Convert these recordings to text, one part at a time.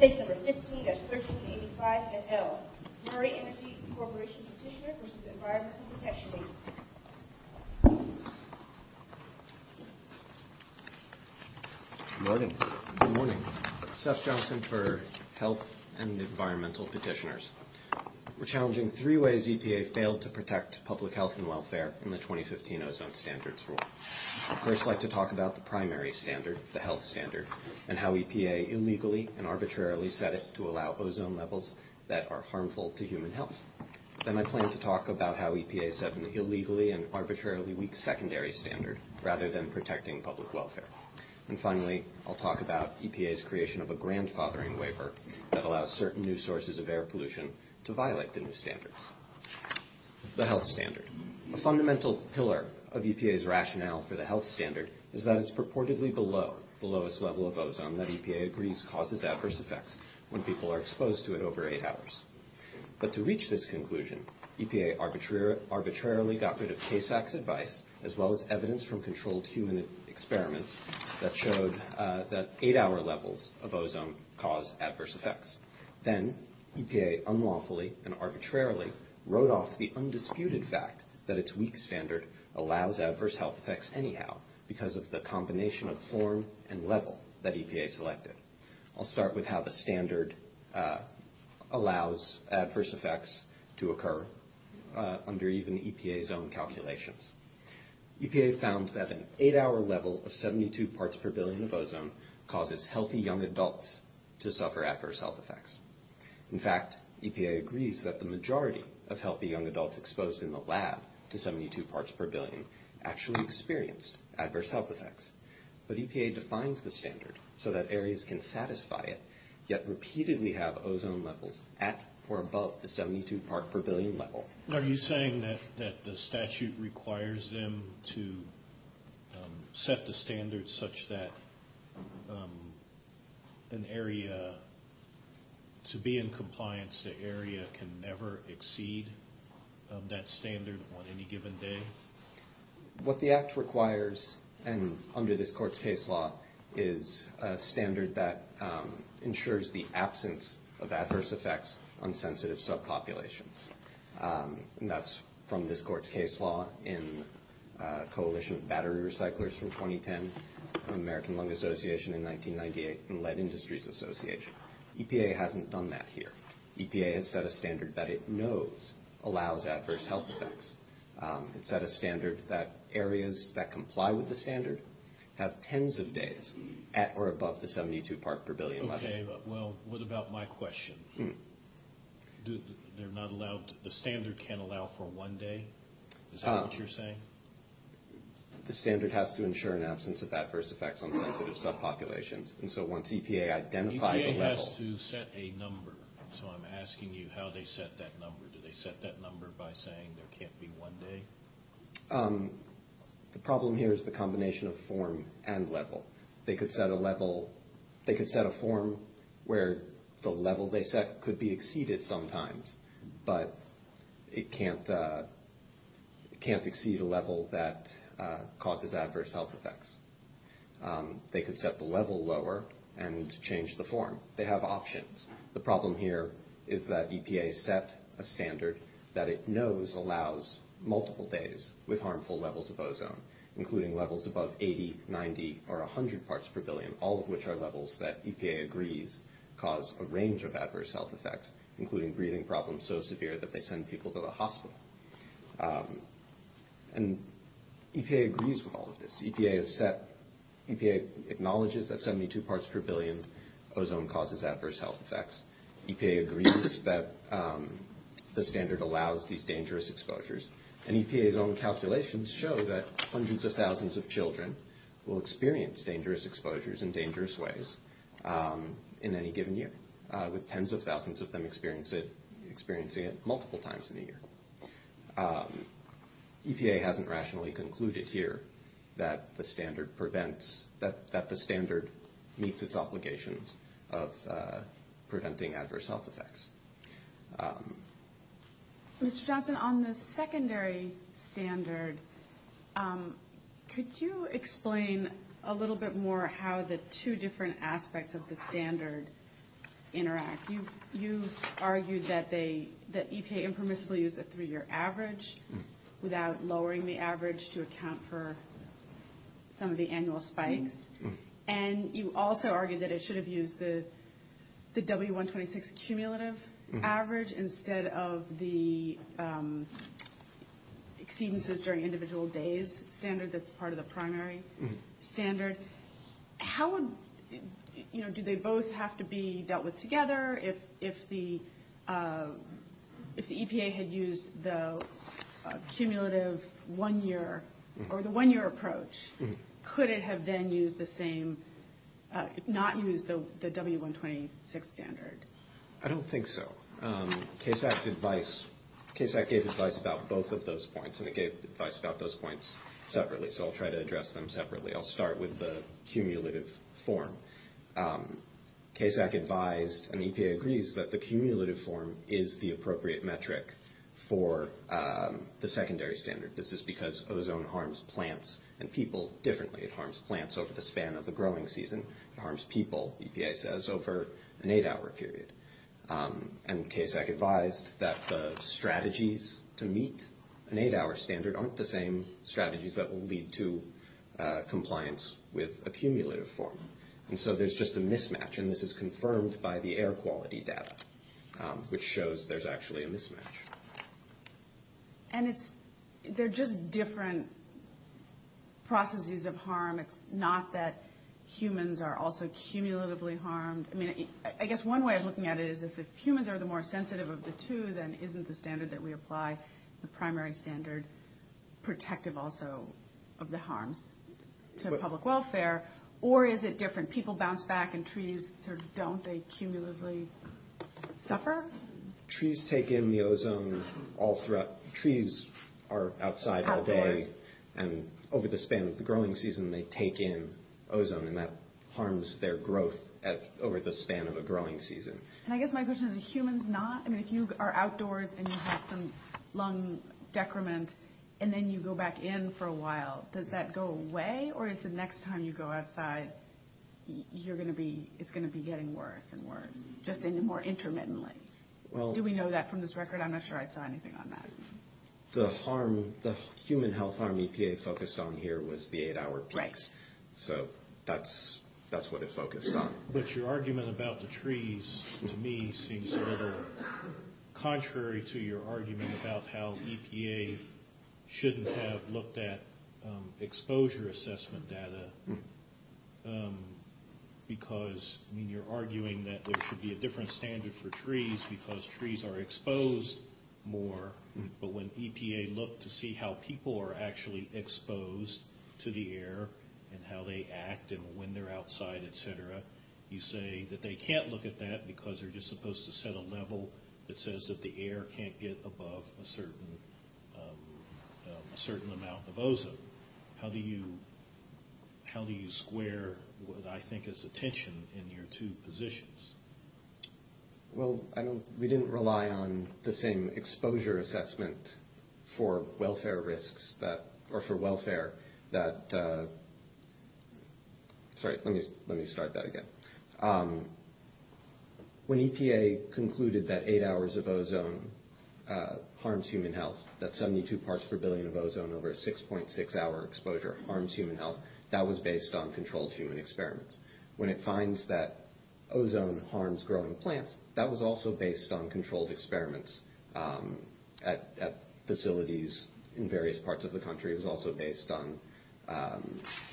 15-1385 NL. Murray Energy Corporation Petitioner v. Environment Protection Agency. Good morning. Good morning. Seth Johnson for Health and Environmental Petitioners. We're challenging three ways EPA failed to protect public health and welfare in the 2015 OZONE Standards Rule. I'd first like to talk about the primary standard, the health standard, and how EPA illegally and arbitrarily set it to allow ozone levels that are harmful to human health. Then I plan to talk about how EPA set an illegally and arbitrarily weak secondary standard rather than protecting public welfare. And finally, I'll talk about EPA's creation of a grandfathering waiver that allows certain new sources of air pollution to violate the new standards. The health standard. A fundamental pillar of EPA's rationale for the rule of ozone that EPA agrees causes adverse effects when people are exposed to it over eight hours. But to reach this conclusion, EPA arbitrarily got rid of KASAC's advice as well as evidence from controlled human experiments that showed that eight-hour levels of ozone caused adverse effects. Then EPA unlawfully and arbitrarily wrote off the undisputed fact that its weak standard allows adverse health effects anyhow because of the combination of form and level that EPA selected. I'll start with how the standard allows adverse effects to occur under even EPA's own calculations. EPA found that an eight-hour level of 72 parts per billion of ozone causes healthy young adults to suffer adverse health effects. In fact, EPA agrees that the majority of healthy young adults exposed in the lab to 72 parts per billion actually experienced adverse health effects. But EPA defines the standard so that areas can satisfy it, yet repeatedly have ozone levels at or above the 72 parts per billion level. Are you saying that the statute requires them to set the standard such that an area, to be in compliance, the area can never exceed that standard on any given day? What the act requires, and under this court's case law, is a standard that ensures the absence of adverse effects on sensitive subpopulations. And that's from this court's case law in Coalition of Battery Recyclers from 2010, American Lung Association in 1998, and Lead Industries Association. EPA hasn't done that here. EPA has set a standard that it knows allows adverse health effects. It's set a standard that areas that comply with the standard have tens of days at or above the 72 parts per billion level. Okay, well, what about my question? They're not allowed – the standard can't allow for one day? Is that what you're saying? The standard has to ensure an absence of adverse effects on sensitive subpopulations. And so once EPA identifies a level – EPA has to set a number. So I'm asking you how they set that number. Do they set that number by saying there can't be one day? The problem here is the combination of form and level. They could set a level – they could set a form where the level they set could be exceeded sometimes, but it can't exceed a level that causes adverse health effects. They could set the level lower and change the form. They have options. The problem here is that EPA set a standard that it knows allows multiple days with harmful levels of ozone, including levels above 80, 90, or 100 parts per billion, all of which are levels that EPA agrees cause a range of adverse health effects, including breathing problems so severe that they send people to the hospital. And EPA agrees with all of this. EPA has set – EPA acknowledges that 72 parts per billion ozone causes adverse health effects. EPA agrees that the standard allows these dangerous exposures. And EPA's own calculations show that hundreds of thousands of children will experience dangerous exposures in dangerous ways in any given year, with tens of thousands of them experiencing it that the standard prevents – that the standard meets its obligations of preventing adverse health effects. Mr. Johnson, on the secondary standard, could you explain a little bit more how the two different aspects of the standard interact? You argued that they – that EPA informally will use a three-year average without lowering the average to account for some of the annual spikes. And you also argued that it should have used the W126 cumulative average instead of the exceedances during individual days standard that's part of the primary standard. How would – do they both have to be dealt with together? If the EPA had used the cumulative one-year – or the one-year approach, could it have then used the same – not used the W126 standard? I don't think so. KSAC's advice – KSAC gave advice about both of those points, and I'll try to address them separately. I'll start with the cumulative form. KSAC advised – and EPA agrees – that the cumulative form is the appropriate metric for the secondary standard. This is because ozone harms plants and people differently. It harms plants over the span of the growing season. It harms people, EPA says, over an eight-hour period. And KSAC advised that the strategies to meet an eight-hour standard aren't the same strategies that will lead to compliance with a cumulative form. And so there's just a mismatch, and this is confirmed by the air quality data, which shows there's actually a mismatch. And it's – they're just different processes of harm. It's not that humans are also cumulatively harmed. I mean, I guess one way of looking at it is if humans are the more sensitive of the two, then isn't the standard that we apply, the primary standard, protective also of the harms to public welfare? Or is it different? People bounce back, and trees sort of don't. They cumulatively suffer. Trees take in the ozone all throughout – trees are outside all day. All day. And over the span of the growing season, they take in ozone, and that harms their growth over the span of a growing season. And I guess my question is, are humans not? I mean, if you are outdoors and you have some lung decrement and then you go back in for a while, does that go away? Or is the next time you go outside, you're going to be – it's going to be getting worse and worse, just more intermittently? Do we know that from this record? I'm not sure I saw anything on that. The harm – the human health harm EPA focused on here was the eight-hour breaks. Right. So that's what it focused on. But your argument about the trees, to me, seems a little contrary to your argument about how EPA shouldn't have looked at exposure assessment data, because you're arguing that there should be a different standard for trees because trees are exposed more. But when EPA looked to see how people are actually exposed to the air and how they act in or when they're outside, et cetera, you say that they can't look at that because they're just supposed to set a level that says that the air can't get above a certain amount of ozone. How do you square what I think is the tension in your two positions? Well, I don't – we didn't rely on the same exposure assessment for welfare risks that – or for welfare that – sorry, let me start that again. When EPA concluded that eight hours of ozone harms human health, that 72 parts per billion of ozone over a 6.6-hour exposure harms human health, that was based on controlled human experiments. When it finds that ozone harms growing plants, that was also based on controlled experiments at facilities in various parts of the country. It was also based on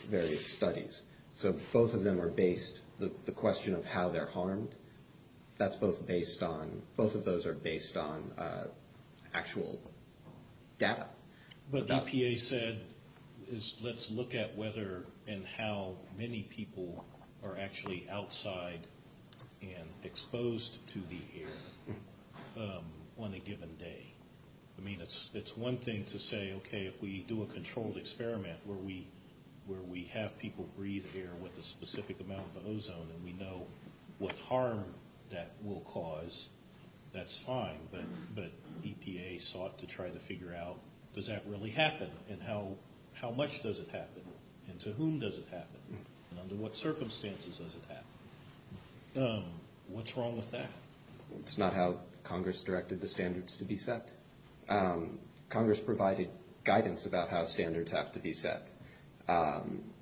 various studies. So both of them are based – the question of how they're harmed, that's both based on – both of those are based on actual data. What EPA said is let's look at whether and how many people are actually outside and exposed to the air on a given day. I mean, it's one thing to say, okay, if we do a controlled experiment where we have people breathe air with a specific amount of ozone and we know what harm that will cause, that's fine. But EPA sought to try to figure out, does that really happen, and how much does it happen, and to whom does it happen, and under what circumstances does it happen. What's wrong with that? It's not how Congress directed the standards to be set. Congress provided guidance about how standards have to be set.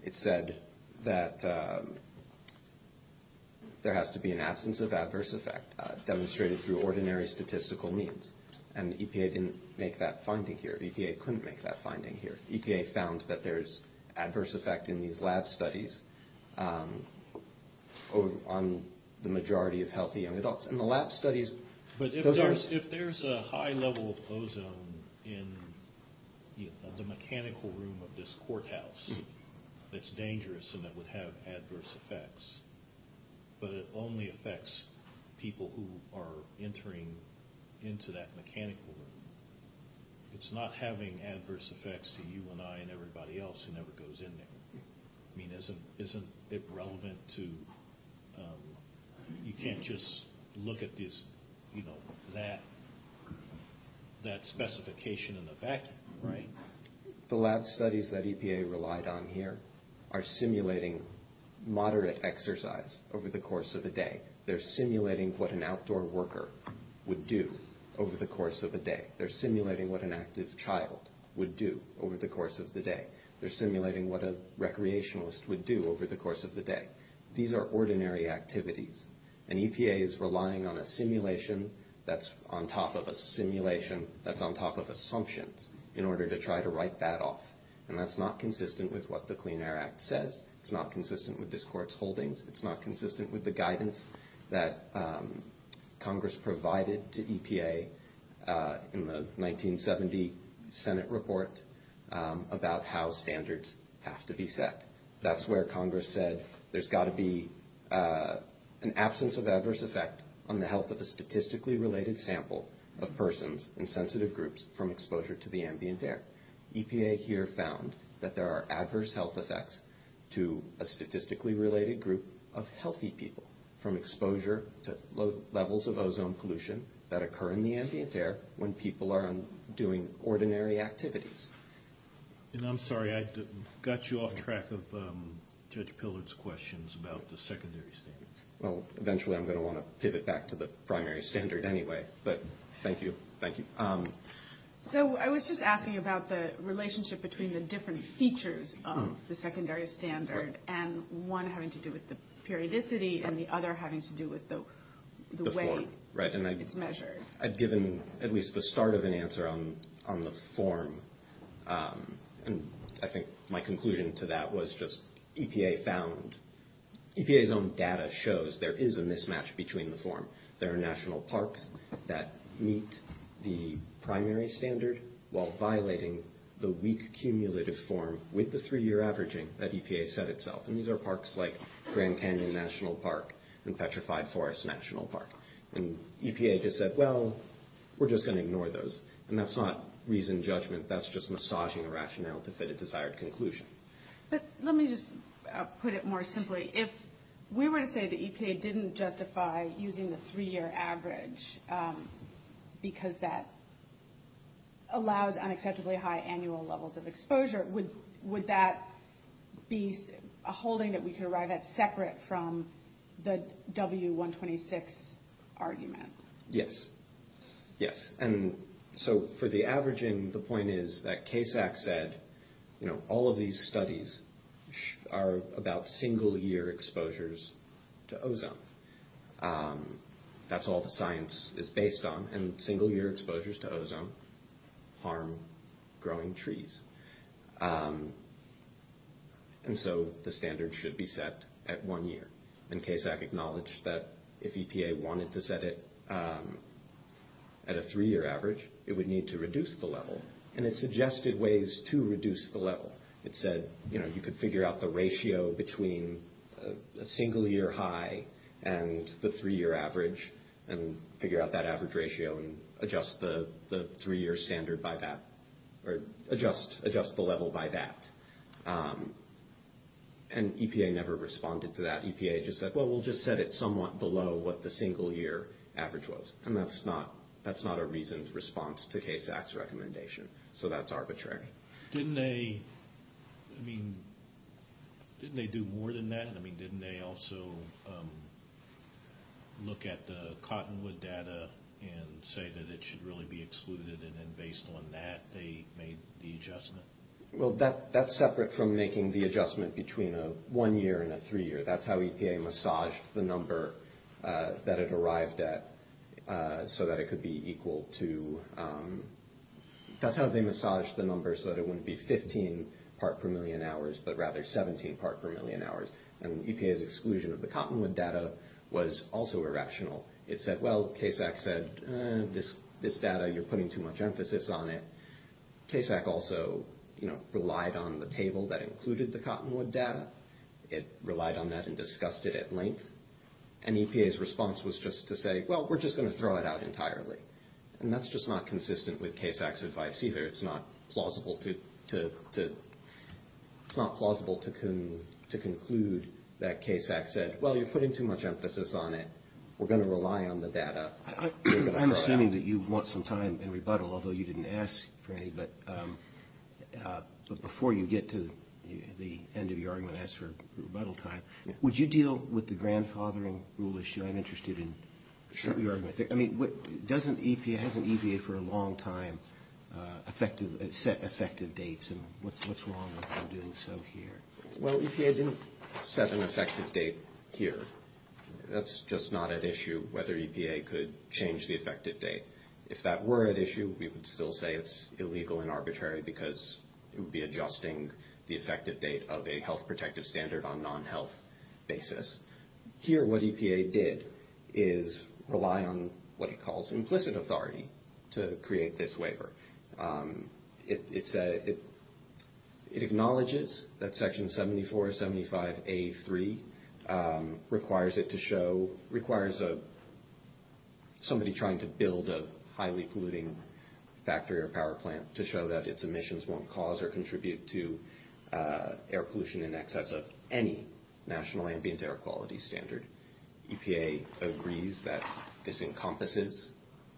It said that there has to be an absence of adverse effect demonstrated through ordinary statistical means. And EPA didn't make that finding here. EPA couldn't make that finding here. EPA found that there's adverse effect in these lab studies on the majority of healthy young adults. And the lab studies – But if there's a high level of ozone in the mechanical room of this courthouse that's dangerous and that would have adverse effects, but it only affects people who are entering into that mechanical room, it's not having adverse effects to you and I and everybody else who never goes in there. I mean, isn't it relevant to – you can't just look at this, you know, that specification in the vacuum. Right. The lab studies that EPA relied on here are simulating moderate exercise over the course of the day. They're simulating what an outdoor worker would do over the course of the day. They're simulating what an active child would do over the course of the day. They're simulating what a recreationalist would do over the course of the day. These are ordinary activities. And EPA is relying on a simulation that's on top of a simulation that's on top of assumptions in order to try to write that off. And that's not consistent with what the Clean Air Act says. It's not consistent with this court's holdings. It's not consistent with the guidance that Congress provided to EPA in the 1970 Senate report about how standards have to be set. That's where Congress said there's got to be an absence of adverse effect on the health of a statistically related sample of persons in sensitive groups from exposure to the ambient air. EPA here found that there are adverse health effects to a statistically related group of healthy people from exposure to levels of ozone pollution that occur in the ambient air when people are doing ordinary activities. And I'm sorry. I got you off track of Judge Pillard's questions about the secondary standards. Well, eventually I'm going to want to pivot back to the primary standard anyway. But thank you. Thank you. So I was just asking about the relationship between the different features of the secondary standard and one having to do with the periodicity and the other having to do with the way it's measured. Right. And I've given at least the start of an answer on the form. And I think my conclusion to that was just EPA found – EPA's own data shows there is a mismatch between the form. There are national parks that meet the primary standard while violating the weak cumulative form with the three-year averaging that EPA set itself. And these are parks like Grand Canyon National Park and Petrified Forest National Park. And EPA just said, well, we're just going to ignore those. And that's not reasoned judgment. That's just massaging rationale to fit a desired conclusion. But let me just put it more simply. If we were to say that EPA didn't justify using the three-year average because that allows unacceptably high annual levels of exposure, would that be a holding that we could arrive at separate from the W126 argument? Yes. Yes. And so for the averaging, the point is that CASAC said all of these studies are about single-year exposures to ozone. That's all the science is based on. And single-year exposures to ozone harm growing trees. And so the standard should be set at one year. And CASAC acknowledged that if EPA wanted to set it at a three-year average, it would need to reduce the level. And it suggested ways to reduce the level. It said, you know, you could figure out the ratio between a single-year high and the three-year average and figure out that average ratio and adjust the three-year standard by that or adjust the level by that. And EPA never responded to that. EPA just said, well, we'll just set it somewhat below what the single-year average was. And that's not a reasoned response to CASAC's recommendation. So that's arbitrary. Didn't they do more than that? I mean, didn't they also look at the Cottonwood data and say that it should really be excluded? And then based on that, they made the adjustment? Well, that's separate from making the adjustment between a one-year and a three-year. That's how EPA massaged the number that it arrived at so that it could be equal to – that's how they massaged the number so that it wouldn't be 15 part-per-million hours but rather 17 part-per-million hours. And EPA's exclusion of the Cottonwood data was also irrational. It said, well, CASAC said, this data, you're putting too much emphasis on it. CASAC also relied on the table that included the Cottonwood data. It relied on that and discussed it at length. And EPA's response was just to say, well, we're just going to throw it out entirely. And that's just not consistent with CASAC's advice either. It's not plausible to conclude that CASAC said, well, you're putting too much emphasis on it. We're going to rely on the data. I'm assuming that you want some time in rebuttal, although you didn't ask for any. But before you get to the end of your argument and ask for rebuttal time, would you deal with the grandfathering rule issue? I'm interested in your argument. I mean, doesn't EPA – hasn't EPA for a long time effective – set effective dates? And what's wrong with them doing so here? Well, EPA didn't set an effective date here. That's just not at issue, whether EPA could change the effective date. If that were at issue, we would still say it's illegal and arbitrary because it would be adjusting the effective date of a health protective standard on a non-health basis. Here, what EPA did is rely on what it calls implicit authority to create this waiver. It acknowledges that Section 7475A3 requires it to show – requires somebody trying to build a highly polluting factory or power plant to show that its emissions won't cause or contribute to air pollution in excess of any national ambient air quality standard. EPA agrees that this encompasses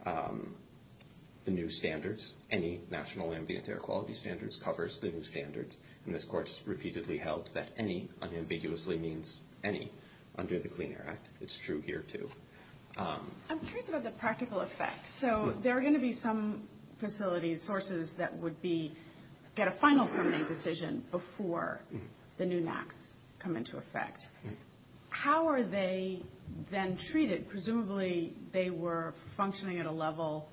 the new standards. Any national ambient air quality standards covers the new standards. And this course repeatedly held that any unambiguously means any under the Clean Air Act. It's true here too. I'm curious about the practical effect. So there are going to be some facility sources that would be – get a final committee decision before the new NAAQS come into effect. How are they then treated? Presumably they were functioning at a level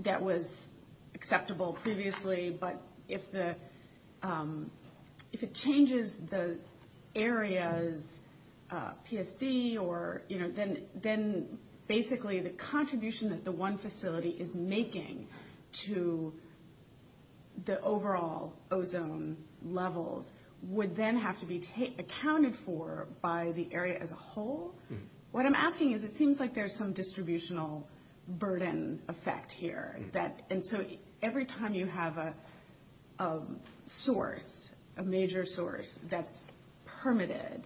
that was acceptable previously, but if the – if it changes the area's PFC or, you know, then basically the contribution that the one facility is making to the overall ozone levels would then have to be accounted for by the area as a whole. What I'm asking is it seems like there's some distributional burden effect here that – and so every time you have a source, a major source, that's permitted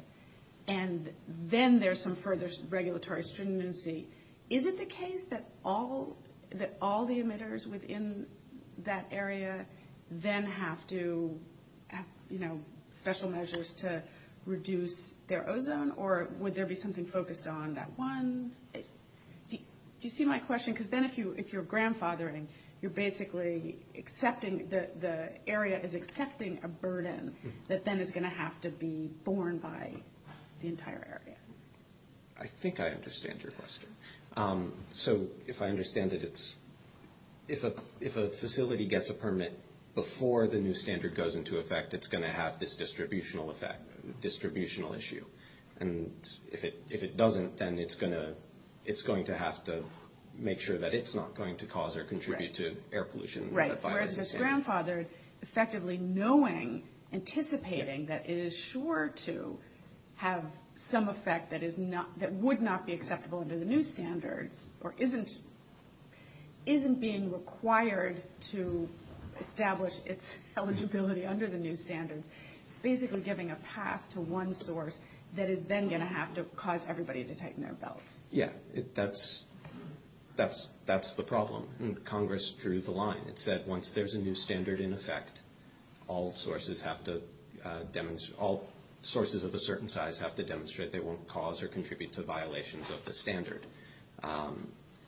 and then there's some further regulatory stringency, is it the case that all – that all the emitters within that area then have to have, you know, special measures to reduce their ozone? Or would there be something focused on that one? Do you see my question? Because then if you're grandfathering, you're basically accepting – the area is accepting a burden that then is going to have to be the entire area. I think I understand your question. So if I understand it, it's – if a facility gets a permit before the new standard goes into effect, it's going to have this distributional effect – distributional issue. And if it doesn't, then it's going to have to make sure that it's not going to cause or contribute to air pollution. Right. Whereas if it's grandfathered, effectively knowing, anticipating that it is sure to have some effect that is not – that would not be acceptable under the new standard or isn't being required to establish its eligibility under the new standard, it's basically giving a path to one source that is then going to have to cause everybody to tighten their belts. Yeah, that's the problem. Congress drew the line. It said once there's a new standard in effect, all sources have to – all sources of a certain size have to demonstrate they won't cause or contribute to violations of the standard.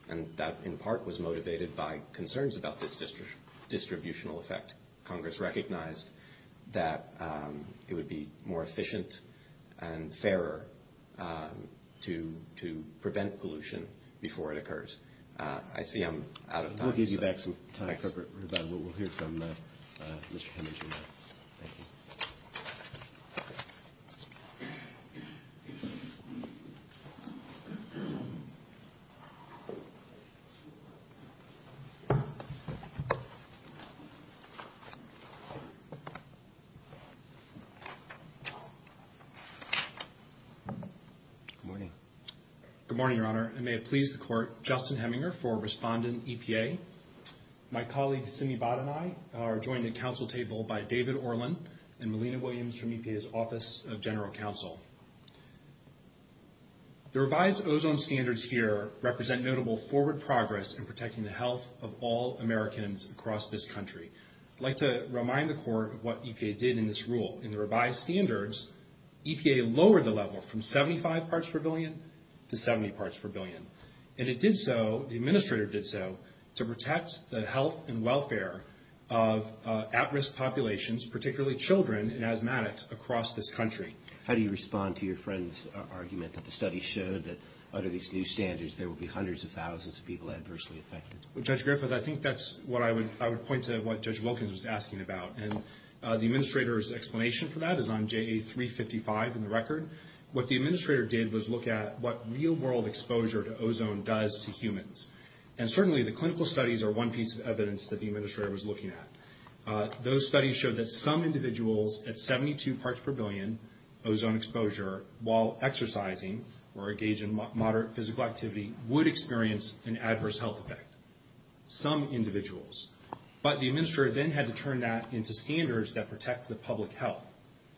And that in part was motivated by concerns about this distributional effect. Congress recognized that it would be more effective to prevent pollution before it occurs. I see I'm out of time. Good morning, Your Honor, and may it please the Court, Justin Heminger for Respondent EPA. My colleague Simi Bhatt and I are joined at council table by David Orlin and Melina Williams from EPA's Office of General Counsel. The revised ozone standards here represent notable forward progress in protecting the health of all Americans across this country. I'd like to remind the Court of what EPA did in this rule. In the revised standards, EPA lowered the level from 75 parts per billion to 70 parts per billion. And it did so – the Administrator did so to protect the health and welfare of at-risk populations, particularly children and asthmatics, across this country. How do you respond to your friend's argument that the study showed that under these new standards there would be hundreds of thousands of people adversely affected? Well, Judge Griffith, I think that's what I would – I would point to what Judge Wilkins was asking about. And the Administrator's explanation for that is on JA355 in the record. What the Administrator did was look at what real-world exposure to ozone does to humans. And certainly the clinical studies are one piece of evidence that the Administrator was looking at. Those studies showed that some individuals at 72 parts per billion ozone exposure while exercising or engaged in moderate physical activity would experience an adverse health effect – some individuals. But the Administrator then had to turn that into standards that protect the public health.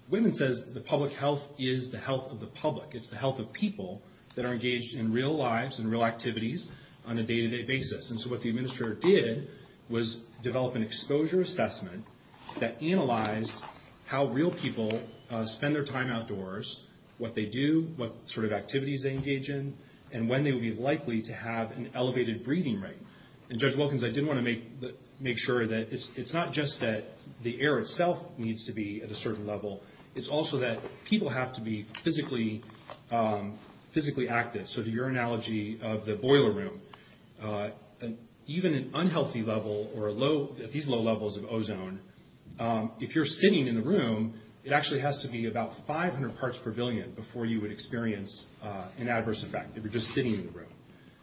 Whitman says the public health is the health of the public. It's the health of people that are engaged in real lives and real activities on a day-to-day basis. And so what the Administrator did was develop an exposure assessment that analyzed how real people spend their time outdoors, what they do, what sort of activities they engage in, and when they would be likely to have an elevated breathing rate. And Judge Wilkins, I did want to make sure that it's not just that the air itself needs to be at a certain level. It's also that people have to be physically active. So your analogy of the boiler room, even an unhealthy level or these low levels of ozone, if you're sitting in the room, it actually has to be about 500 parts per billion before you would experience an adverse effect if you're just sitting in the room.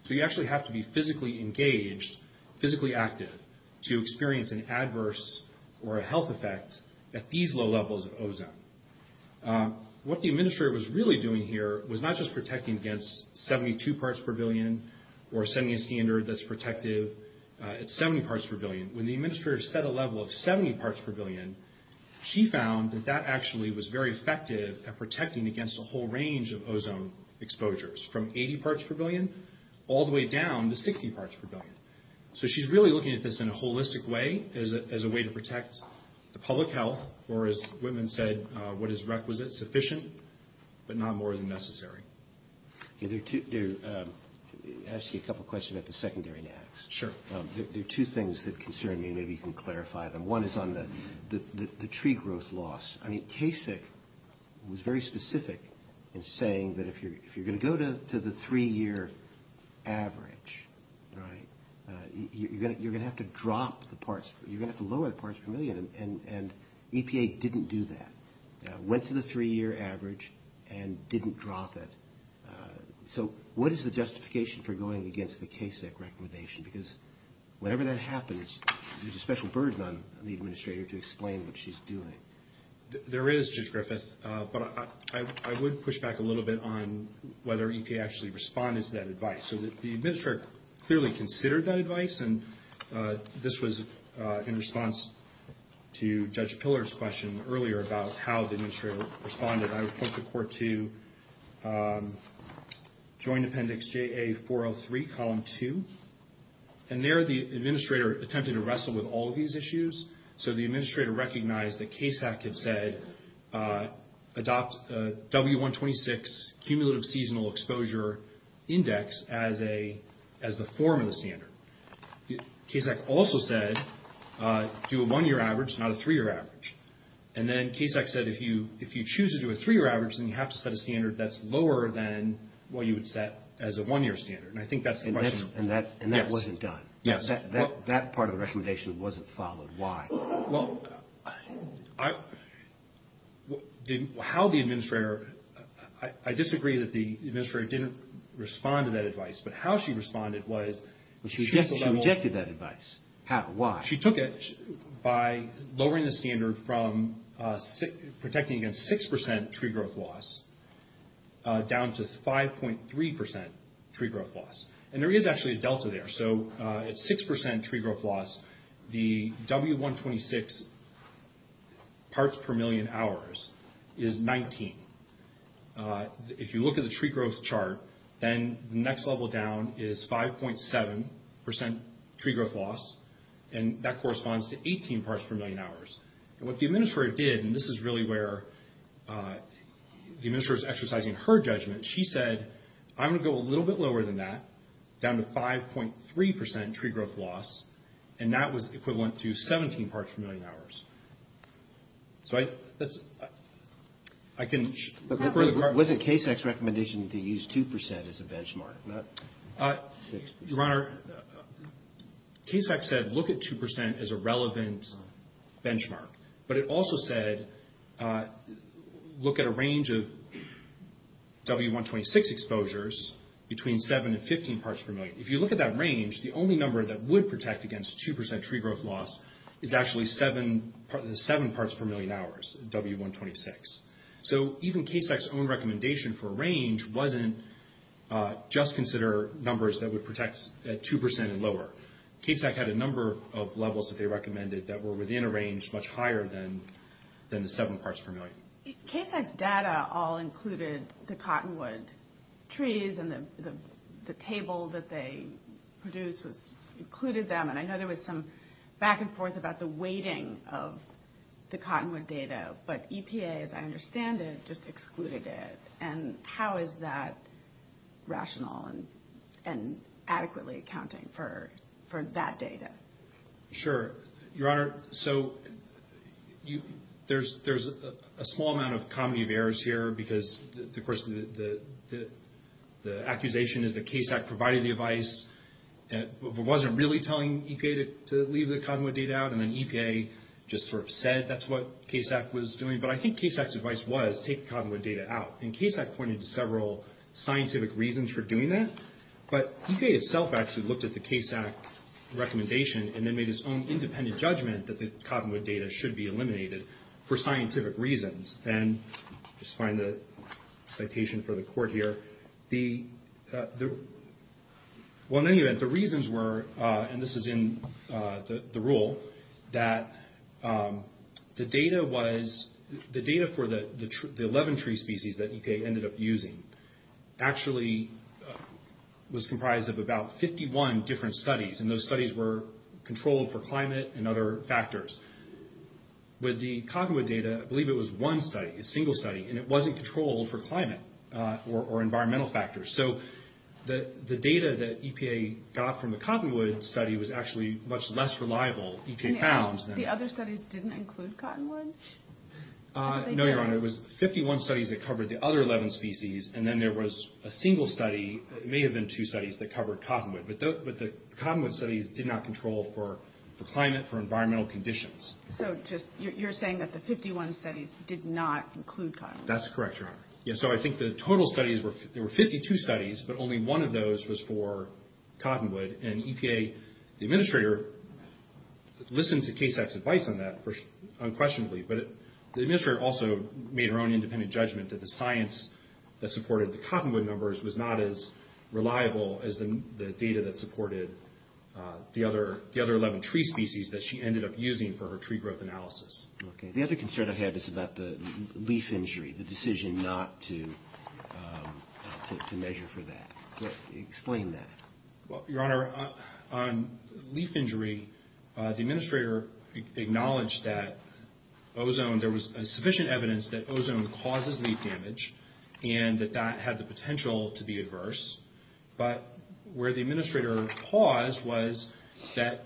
So you actually have to be physically engaged, physically active to experience an adverse or a health effect at these low levels of ozone. What the Administrator was really doing here was not just protecting against 72 parts per billion or setting a standard that's protective at 70 parts per billion. When the Administrator set a level of 70 parts per billion, she found that that actually was very effective at protecting against a whole range of ozone exposures from 80 parts per billion all the way down to 60 as a way to protect the public health, or as Whitman said, what is requisite, sufficient, but not more than necessary. There are actually a couple of questions I'd be secondary to ask. Sure. There are two things that concern me, maybe you can clarify them. One is on the tree growth loss. I mean, CASIC was very specific in saying that if you're going to go to the three-year average, right, you're going to have to drop the parts, you're going to have to lower the parts per million, and EPA didn't do that. Went to the three-year average and didn't drop it. So what is the justification for going against the CASIC recommendation? Because whenever that happens, there's a special burden on the Administrator to explain what she's doing. There is, Judge Griffith, but I would push back a little bit on whether EPA actually responded to that advice. So the Administrator clearly considered that advice, and this was in response to Judge Pillar's question earlier about how the Administrator responded. I would put the Court to Joint Appendix JA403, Column 2. And there the Administrator attempted to wrestle with all these issues. So the Administrator recognized that CASIC had said adopt W126, Cumulative Seasonal Exposure Index, as the form of the standard. CASIC also said do a one-year average, not a three-year average. And then CASIC said if you choose to do a three-year average, then you have to set a standard that's lower than what you would set as a one-year standard. And I think that's the question. And that wasn't done. Yes. That part of the recommendation wasn't followed. Why? Well, I – how the Administrator – I disagree that the Administrator didn't respond to that advice, but how she responded was – She rejected that advice. How? Why? She took it by lowering the standard from protecting against 6% tree growth loss down to 5.3% And there is actually a delta there. So at 6% tree growth loss, the W126 parts per million hours is 19. If you look at the tree growth chart, then the next level down is 5.7% tree growth loss. And that corresponds to 18 parts per million hours. And what the Administrator did – and this is really where the Administrator is exercising her judgment – is she said, I'm going to go a little bit lower than that, down to 5.3% tree growth loss, and that was equivalent to 17 parts per million hours. So I – I can – Was it KSAC's recommendation to use 2% as a benchmark, not 6%? Your Honor, KSAC said look at 2% as a relevant benchmark, but it also said look at a range of W126 exposures between 7 and 15 parts per million. If you look at that range, the only number that would protect against 2% tree growth loss is actually 7 parts per million hours, W126. So even KSAC's own recommendation for range wasn't just consider numbers that would protect at 2% and lower. KSAC had a number of levels that they recommended that were within a range much higher than the 7 parts per million. KSAC's data all included the Cottonwood trees and the table that they produced included them, and I know there was some back and forth about the weighting of the Cottonwood data, but EPA, as I understand it, just excluded it, and how is that rational and adequately accounting for that data? Sure. Your Honor, so there's a small amount of comedy of errors here because, of course, the accusation is that KSAC provided the advice but wasn't really telling EPA to leave the Cottonwood data out, and then EPA just sort of said that's what KSAC was doing, but I think KSAC's advice was take the Cottonwood data out, and KSAC pointed to several scientific reasons for doing that, but EPA itself actually looked at the KSAC recommendation and then made its own independent judgment that the Cottonwood data should be eliminated for scientific reasons. Then just find the citation for the court here. Well, in any event, the reasons were, and this is in the rule, that the data for the 11 tree species that EPA ended up using actually was comprised of about 51 different studies, and those studies were controlled for climate and other factors, but the Cottonwood data, I believe it was one study, a single study, and it wasn't controlled for climate or environmental factors, so the data that EPA got from the Cottonwood study was actually much less reliable, EPA found. The other studies didn't include Cottonwood? No, Your Honor, it was 51 studies that covered the other 11 species, and then there was a single study, it may have been two studies that covered Cottonwood, but the Cottonwood studies did not control for climate, for environmental conditions. So you're saying that the 51 studies did not include Cottonwood? That's correct, Your Honor. Yes, so I think the total studies, there were 52 studies, but only one of those was for Cottonwood, and EPA, the administrator, listened to KSAC's advice on that unquestionably, but the administrator also made her own independent judgment that the science that supported the Cottonwood numbers was not as reliable as the data that supported the other 11 tree species that she ended up using for her tree growth analysis. Okay, the other concern I had is about the leaf injury, the decision not to measure for that. Explain that. Well, Your Honor, on leaf injury, the administrator acknowledged that ozone, there was sufficient evidence that ozone causes leaf damage, and that that had the potential to be adverse, but where the administrator paused was that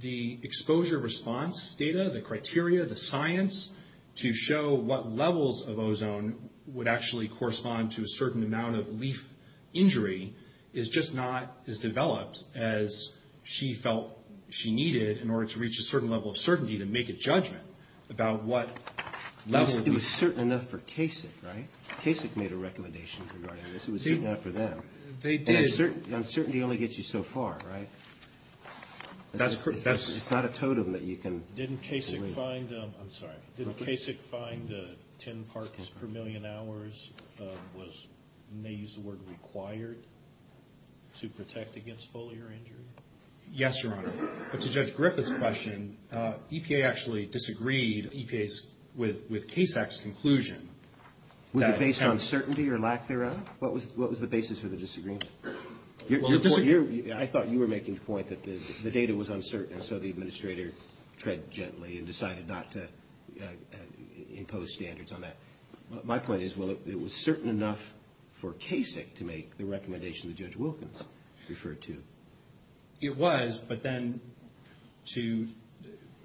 the exposure response data, the criteria, the science, to show what levels of ozone would actually correspond to a certain amount of leaf injury is just not as developed as she felt she needed in order to reach a certain level of certainty to make a judgment about what level of... It was certain enough for KSAC, right? KSAC made a recommendation. It was enough for them. Certainty only gets you so far, right? It's not a totem that you can... Didn't KSAC find, I'm sorry. Didn't KSAC find that 10 parches per million hours was, you may use the word, required to protect against foliar injury? Yes, Your Honor. To Judge Griffith's question, EPA actually disagreed with KSAC's conclusion. Was it based on certainty or lack thereof? What was the basis for the disagreement? I thought you were making the point that the data was uncertain, so the administrator tread gently and decided not to impose standards on that. My point is, well, it was certain enough for KSAC to make the recommendation that Judge Wilkins referred to. It was, but then to...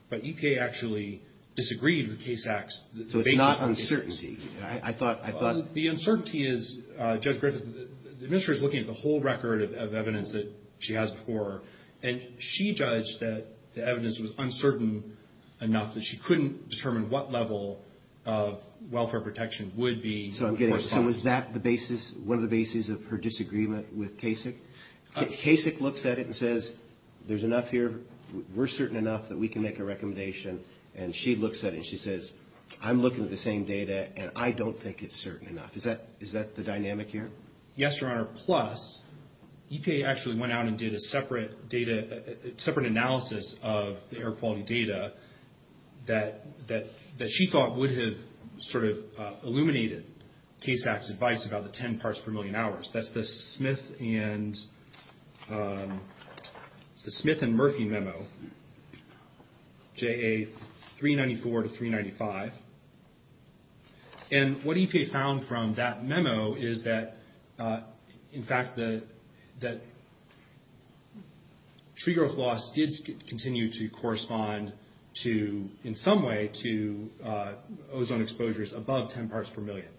But EPA actually disagreed with KSAC's... So it's not uncertainty. I thought... The uncertainty is, Judge Griffith, the administrator is looking at the whole record of evidence that she has before her, and she judged that the evidence was uncertain enough that she couldn't determine what level of welfare protection would be... So is that the basis, one of the bases of her disagreement with KSAC? KSAC looks at it and says, there's enough here. We're certain enough that we can make a recommendation, and she looks at it and she says, I'm looking at the same data, and I don't think it's certain enough. Is that the dynamic here? Yes, Your Honor. Plus, EPA actually went out and did a separate analysis of the air quality data that she thought would have sort of illuminated KSAC's advice about the 10 parts per million hours. That's the Smith and Murphy memo, J.A. 394 to 395. And what EPA found from that memo is that, in fact, the trigger of loss did continue to correspond to, in some way, to ozone exposures above 10 parts per million.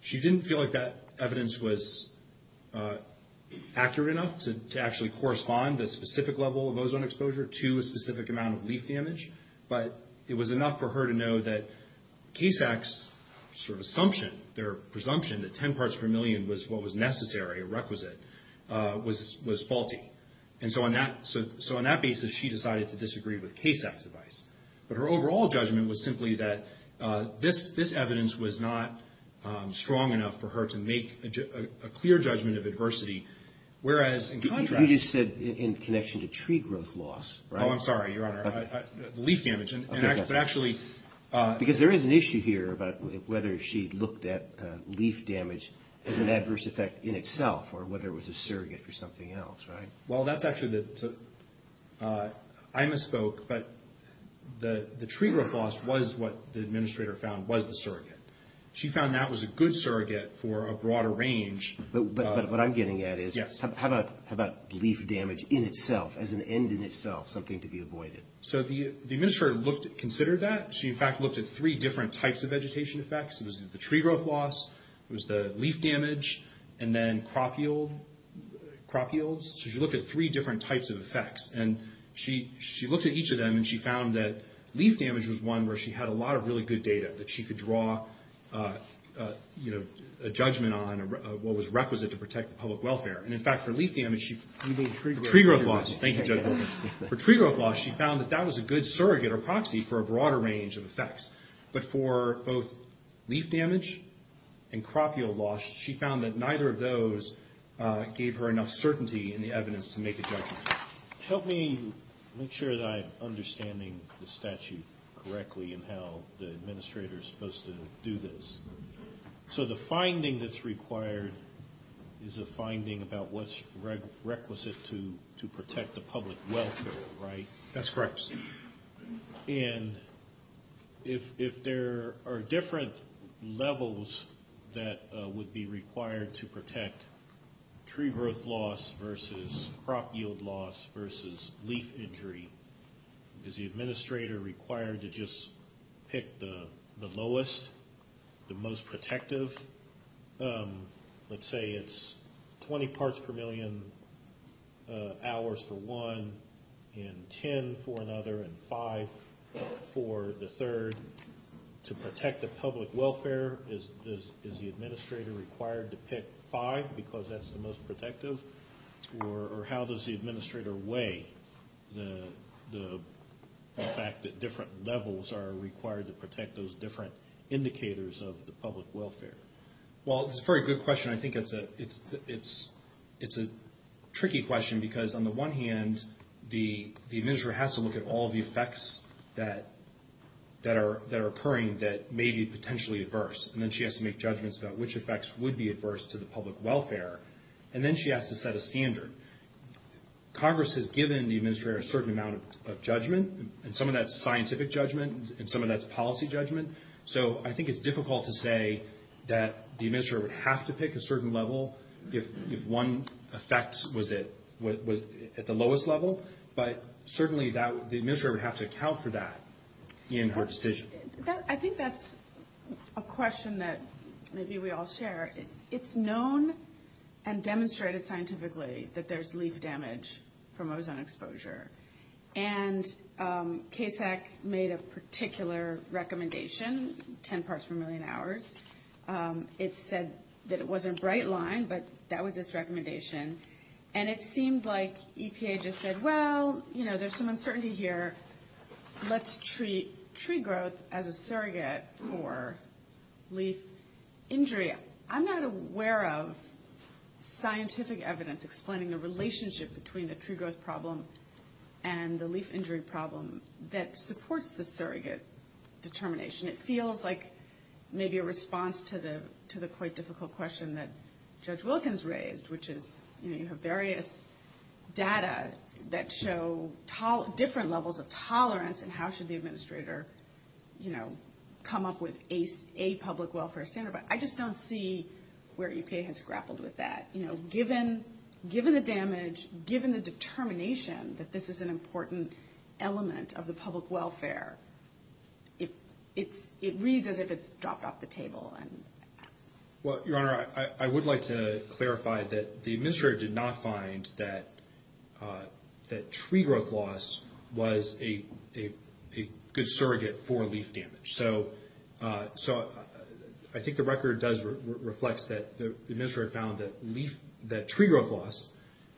She didn't feel like that evidence was accurate enough to actually correspond the specific level of ozone exposure to a specific amount of leak damage, but it was enough for her to know that KSAC's sort of assumption, their presumption that 10 parts per million was what was necessary, requisite, was faulty. And so on that basis, she decided to disagree with KSAC's advice. But her overall judgment was simply that this evidence was not strong enough for her to make a clear judgment of adversity, whereas in contrast... You said in connection to tree growth loss, right? Oh, I'm sorry, Your Honor. Leaf damage, but actually... Because there is an issue here about whether she looked at leaf damage as an adverse effect in itself or whether it was a surrogate or something else, right? Well, that's actually the... I misspoke, but the tree growth loss was what the administrator found was the surrogate. She found that was a good surrogate for a broader range. But what I'm getting at is, how about leaf damage in itself, as an end in itself, something to be avoided? So the administrator considered that. She, in fact, looked at three different types of vegetation effects. It was the tree growth loss, it was the leaf damage, and then crop yields. She looked at three different types of effects, and she looked at each of them and she found that leaf damage was one where she had a lot of really good data that she could draw a judgment on what was requisite to protect public welfare. And, in fact, for leaf damage, she... You mean tree growth loss. Tree growth loss. Thank you, Judge. For tree growth loss, she found that that was a good surrogate or proxy for a broader range of effects. But for both leaf damage and crop yield loss, she found that neither of those gave her enough certainty in the evidence to make a judgment. Help me make sure that I'm understanding the statute correctly and how the administrator is supposed to do this. So the finding that's required is a finding about what's requisite to protect the public welfare, right? That's correct. And if there are different levels that would be required to protect tree growth loss versus crop yield loss versus leaf injury, is the administrator required to just pick the lowest, the most protective? Let's say it's 20 parts per million hours for one and 10 for another and five for the third. To protect the public welfare, is the administrator required to pick five because that's the most protective? Or how does the administrator weigh the fact that different levels are required to protect those different indicators of the public welfare? Well, it's a very good question. I think it's a tricky question because, on the one hand, the administrator has to look at all the effects that are occurring that may be potentially adverse. And then she has to make judgments about which effects would be adverse to the public welfare. And then she has to set a standard. Congress has given the administrator a certain amount of judgment, and some of that's scientific judgment and some of that's policy judgment. So I think it's difficult to say that the administrator would have to pick a certain level if one effect was at the lowest level. But certainly the administrator would have to account for that in her decision. I think that's a question that maybe we all share. It's known and demonstrated scientifically that there's leaf damage from ozone exposure. And KFAC made a particular recommendation, 10 parts per million hours. It said that it was a bright line, but that was its recommendation. And it seemed like EPA just said, well, you know, there's some uncertainty here. Let's treat tree growth as a surrogate for leaf injury. I'm not aware of scientific evidence explaining the relationship between the tree growth problem and the leaf injury problem that supports the surrogate determination. It feels like maybe a response to the quite difficult question that Judge Wilkins raised, which is, you know, you have various data that show different levels of tolerance and how should the administrator, you know, come up with a public welfare standard. But I just don't see where EPA has grappled with that. You know, given the damage, given the determination that this is an important element of the public welfare, it reads as if it's dropped off the table. Well, Your Honor, I would like to clarify that the administrator did not find that tree growth loss was a good surrogate for leaf damage. So I think the record does reflect that the administrator found that tree growth loss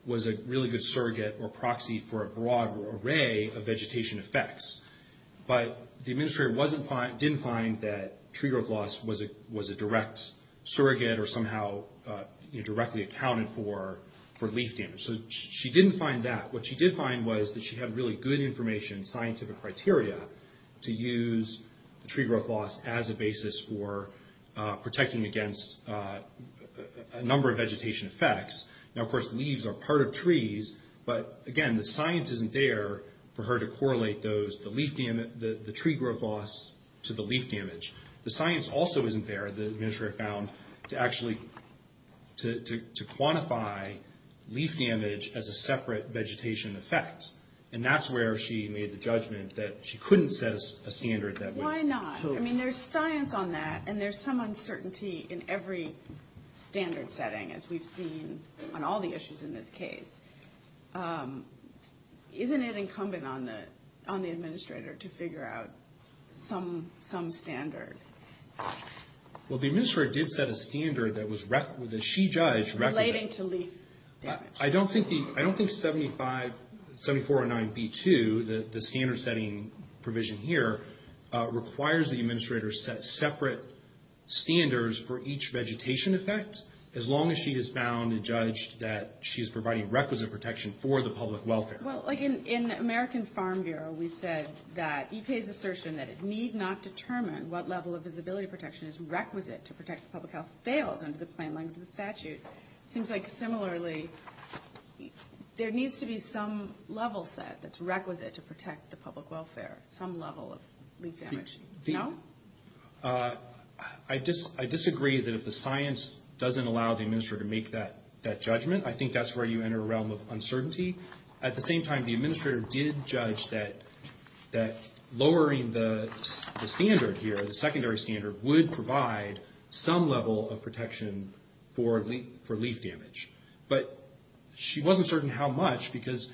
was a really good surrogate or proxy for a broad array of vegetation effects. But the administrator didn't find that tree growth loss was a direct surrogate or somehow directly accounted for for leaf damage. So she didn't find that. What she did find was that she had really good information, scientific criteria, to use tree growth loss as a basis for protecting against a number of vegetation effects. Now, of course, leaves are part of trees. But, again, the science isn't there for her to correlate the tree growth loss to the leaf damage. The science also isn't there, the administrator found, to actually quantify leaf damage as a separate vegetation effect. And that's where she made the judgment that she couldn't set a standard that way. Why not? I mean, there's science on that, and there's some uncertainty in every standard setting, as we've seen on all the issues in this case. Isn't it incumbent on the administrator to figure out some standard? Well, the administrator did set a standard that she judged. Related to leaf damage. I don't think 7409B2, the standard setting provision here, requires the administrator to set separate standards for each vegetation effect. As long as she is bound and judged that she's providing requisite protection for the public welfare. Well, like in the American Farm Bureau, we said that EPA's assertion that it need not determine what level of visibility protection is requisite to protect the public health fails under the guidelines of the statute. It seems like, similarly, there needs to be some level set that's requisite to protect the public welfare, some level of leaf damage. No? I disagree that if the science doesn't allow the administrator to make that judgment, I think that's where you enter a realm of uncertainty. At the same time, the administrator did judge that lowering the standard here, the secondary standard, would provide some level of protection for leaf damage. But she wasn't certain how much, because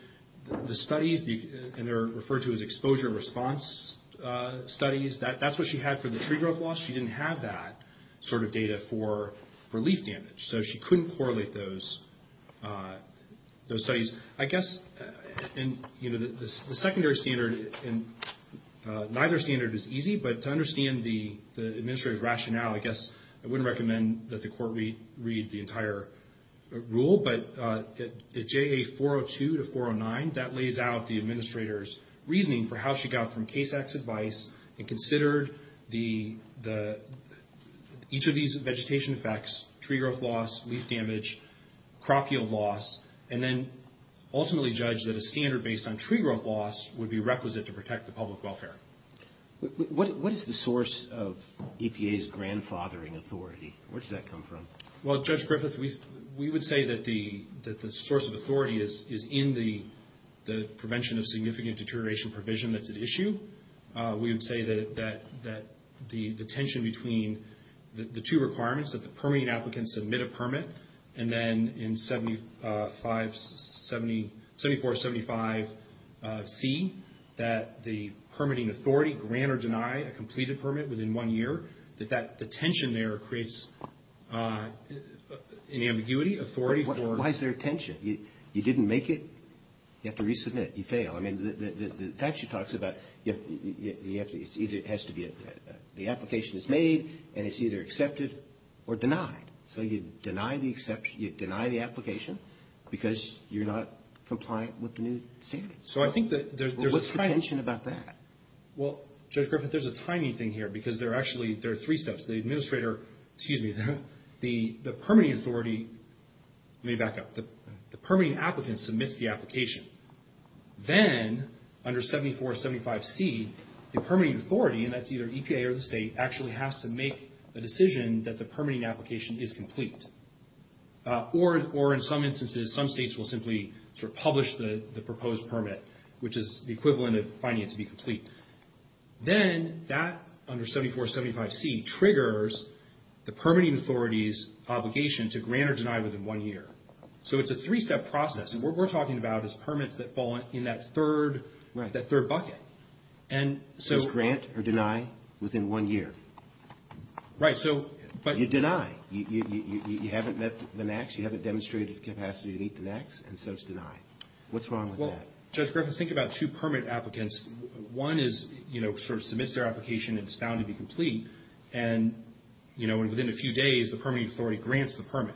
the studies, and they're referred to as exposure response studies, that's what she had for the tree growth loss. She didn't have that sort of data for leaf damage, so she couldn't correlate those studies. I guess the secondary standard, neither standard is easy, but to understand the administrative rationale, I guess I wouldn't recommend that the court read the entire rule, but at JA 402 to 409, that lays out the administrator's reasoning for how she got from case X advice and considered each of these vegetation effects, tree growth loss, leaf damage, crop yield loss, and then ultimately judged that a standard based on tree growth loss would be requisite to protect the public welfare. What is the source of EPA's grandfathering authority? Where does that come from? Well, Judge Griffith, we would say that the source of authority is in the prevention of significant deterioration provision that's at issue. We would say that the tension between the two requirements, that the permitting applicants submit a permit, and then in 7475C, that the permitting authority grant or deny a completed permit within one year, that the tension there creates an ambiguity, authority. Why is there a tension? You didn't make it, you have to resubmit, you fail. I mean, the statute talks about the application is made and it's either accepted or denied. So you deny the application because you're not compliant with the new standards. So I think that there's a tension about that. Well, Judge Griffith, there's a tiny thing here because there are actually three steps. The administrator, excuse me, the permitting authority, let me back up, the permitting applicant submits the application. Then under 7475C, the permitting authority, and that's either EPA or the state, actually has to make a decision that the permitting application is complete. Or in some instances, some states will simply sort of publish the proposed permit, which is the equivalent of finding it to be complete. Then that, under 7475C, triggers the permitting authority's obligation to grant or deny within one year. So it's a three-step process. And what we're talking about is permits that fall in that third bucket. So grant or deny within one year. Right. You deny. You haven't met the max, you haven't demonstrated the capacity to meet the max, and so it's denied. What's wrong with that? Well, Judge Griffith, think about two permit applicants. One is, you know, sort of submits their application and it's found to be complete. And, you know, within a few days, the permitting authority grants the permit.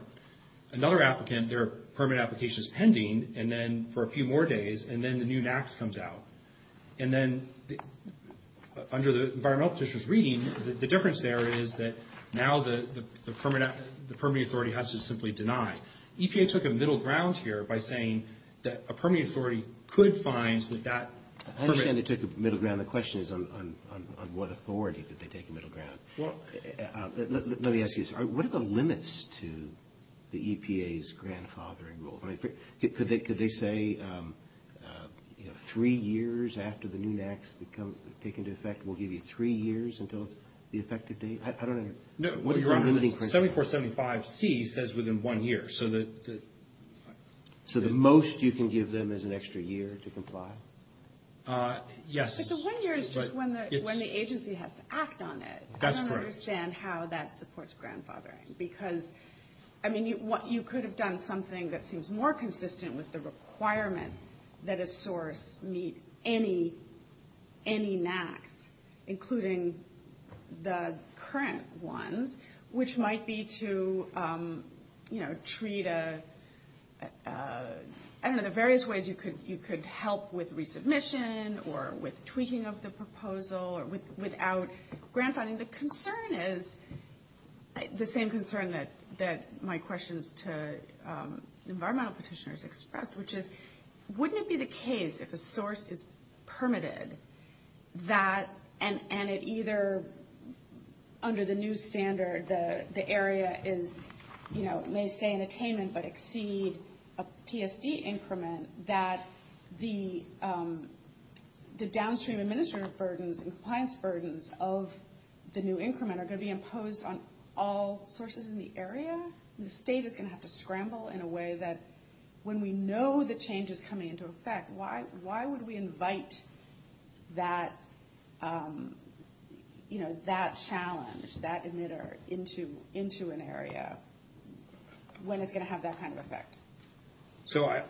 Another applicant, their permit application is pending, and then for a few more days, and then the new max comes out. And then under the environmental officer's reading, the difference there is that now the permitting authority has to simply deny. EPA took a middle ground here by saying that a permitting authority could find that that permit. I understand they took a middle ground. The question is on what authority did they take a middle ground. Well. Let me ask you this. What are the limits to the EPA's grandfathering rule? I mean, could they say, you know, three years after the new max become taken into effect, we'll give you three years until the effective date? I don't understand. No. 7475C says within one year. So the most you can give them is an extra year to comply? Yes. But the one year is just when the agency has to act on it. That's correct. I don't understand how that supports grandfathering. Because, I mean, you could have done something that seems more consistent with the requirement that a source meet any max, including the current ones, which might be to, you know, treat a – I don't know, the various ways you could help with resubmission or with tweaking of the proposal without grandfathering. So the concern is the same concern that my questions to environmental petitioners expressed, which is wouldn't it be the case if a source is permitted that – and it either under the new standard the area is, you know, may stay in attainment but exceed a PSD increment, that the downstream administrative burdens and compliance burdens of the new increment are going to be imposed on all sources in the area? The state is going to have to scramble in a way that when we know the change is coming into effect, why would we invite that, you know, that challenge, that emitter into an area when it's going to have that kind of effect? So I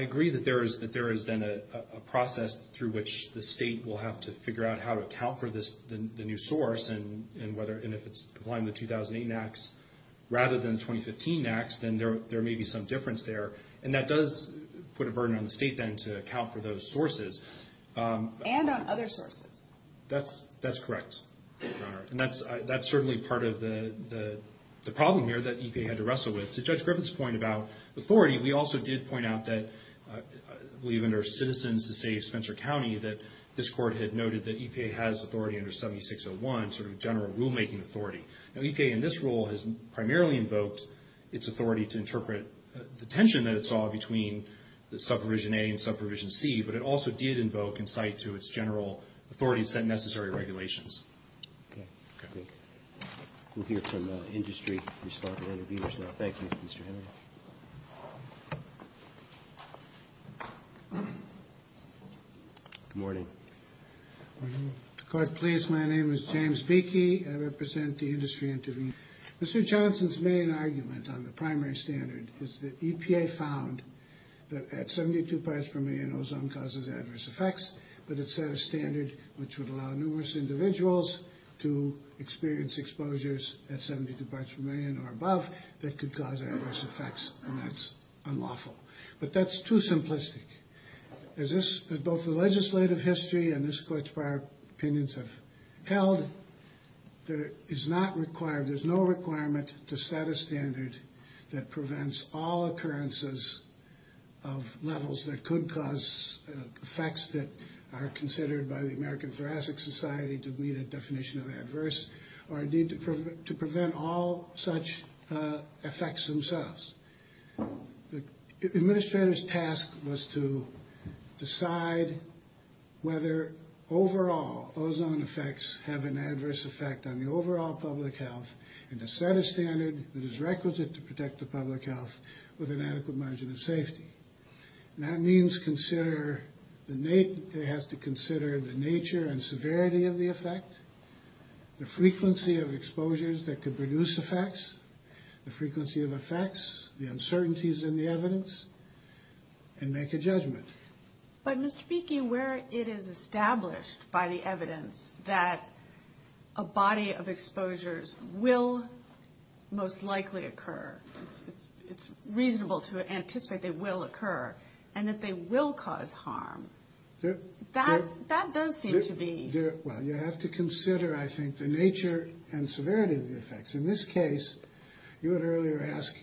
agree that there is then a process through which the state will have to figure out how to account for the new source and whether – and if it's applying the 2008 max rather than the 2015 max, then there may be some difference there. And that does put a burden on the state then to account for those sources. And on other sources. That's correct, Your Honor. And that's certainly part of the problem here that EPA had to wrestle with. And to Judge Griffith's point about authority, we also did point out that we, under Citizens to Save Spencer County, that this court had noted that EPA has authority under 7601, sort of general rulemaking authority. Now EPA in this rule has primarily invoked its authority to interpret the tension that it saw between the Subprovision A and Subprovision C, but it also did invoke in sight to its general authority set necessary regulations. Okay. We'll hear from industry respondents and viewers now. Thank you, Mr. Hill. Good morning. Good morning. If the court please, my name is James Beeky. I represent the industry. Mr. Johnson's main argument on the primary standard was that EPA found that 72 parts per million ozone causes adverse effects, but it set a standard which would allow numerous individuals to experience exposures at 72 parts per million or above that could cause adverse effects, and that's unlawful. But that's too simplistic. As both the legislative history and this court's prior opinions have held, there is no requirement to set a standard that prevents all occurrences of levels that could cause effects that are considered by the American Thoracic Society to be a definition of adverse or indeed to prevent all such effects themselves. The administrator's task was to decide whether overall ozone effects have an adverse effect on the overall public health and to set a standard that is requisite to protect the public health with a medical margin of safety. That means it has to consider the nature and severity of the effect, the frequency of exposures that could produce effects, the frequency of effects, the uncertainties in the evidence, and make a judgment. But, Mr. Beeky, where it is established by the evidence that a body of exposures will most likely occur, it's reasonable to anticipate they will occur, and that they will cause harm. That does seem to be... Well, you have to consider, I think, the nature and severity of the effects. In this case, you had earlier asked,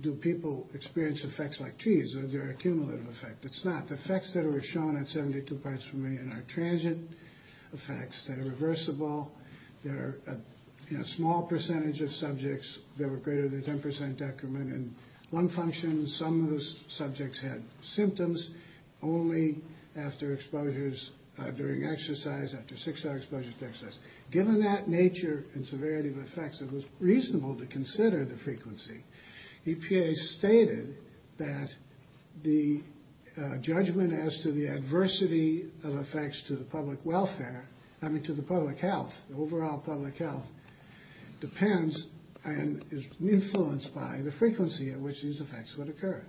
do people experience effects like T's? Is there a cumulative effect? It's not. Effects that are shown at 72 parts per million are transient effects that are reversible. They're small. They're a small percentage of subjects. They're a greater than 10% decrement in one function. Some of those subjects had symptoms only after exposures during exercise, after six-hour exposure to exercise. Given that nature and severity of effects, it was reasonable to consider the frequency. EPA stated that the judgment as to the adversity of effects to the public welfare, I mean to the public health, the overall public health, depends and is influenced by the frequency at which these effects would occur.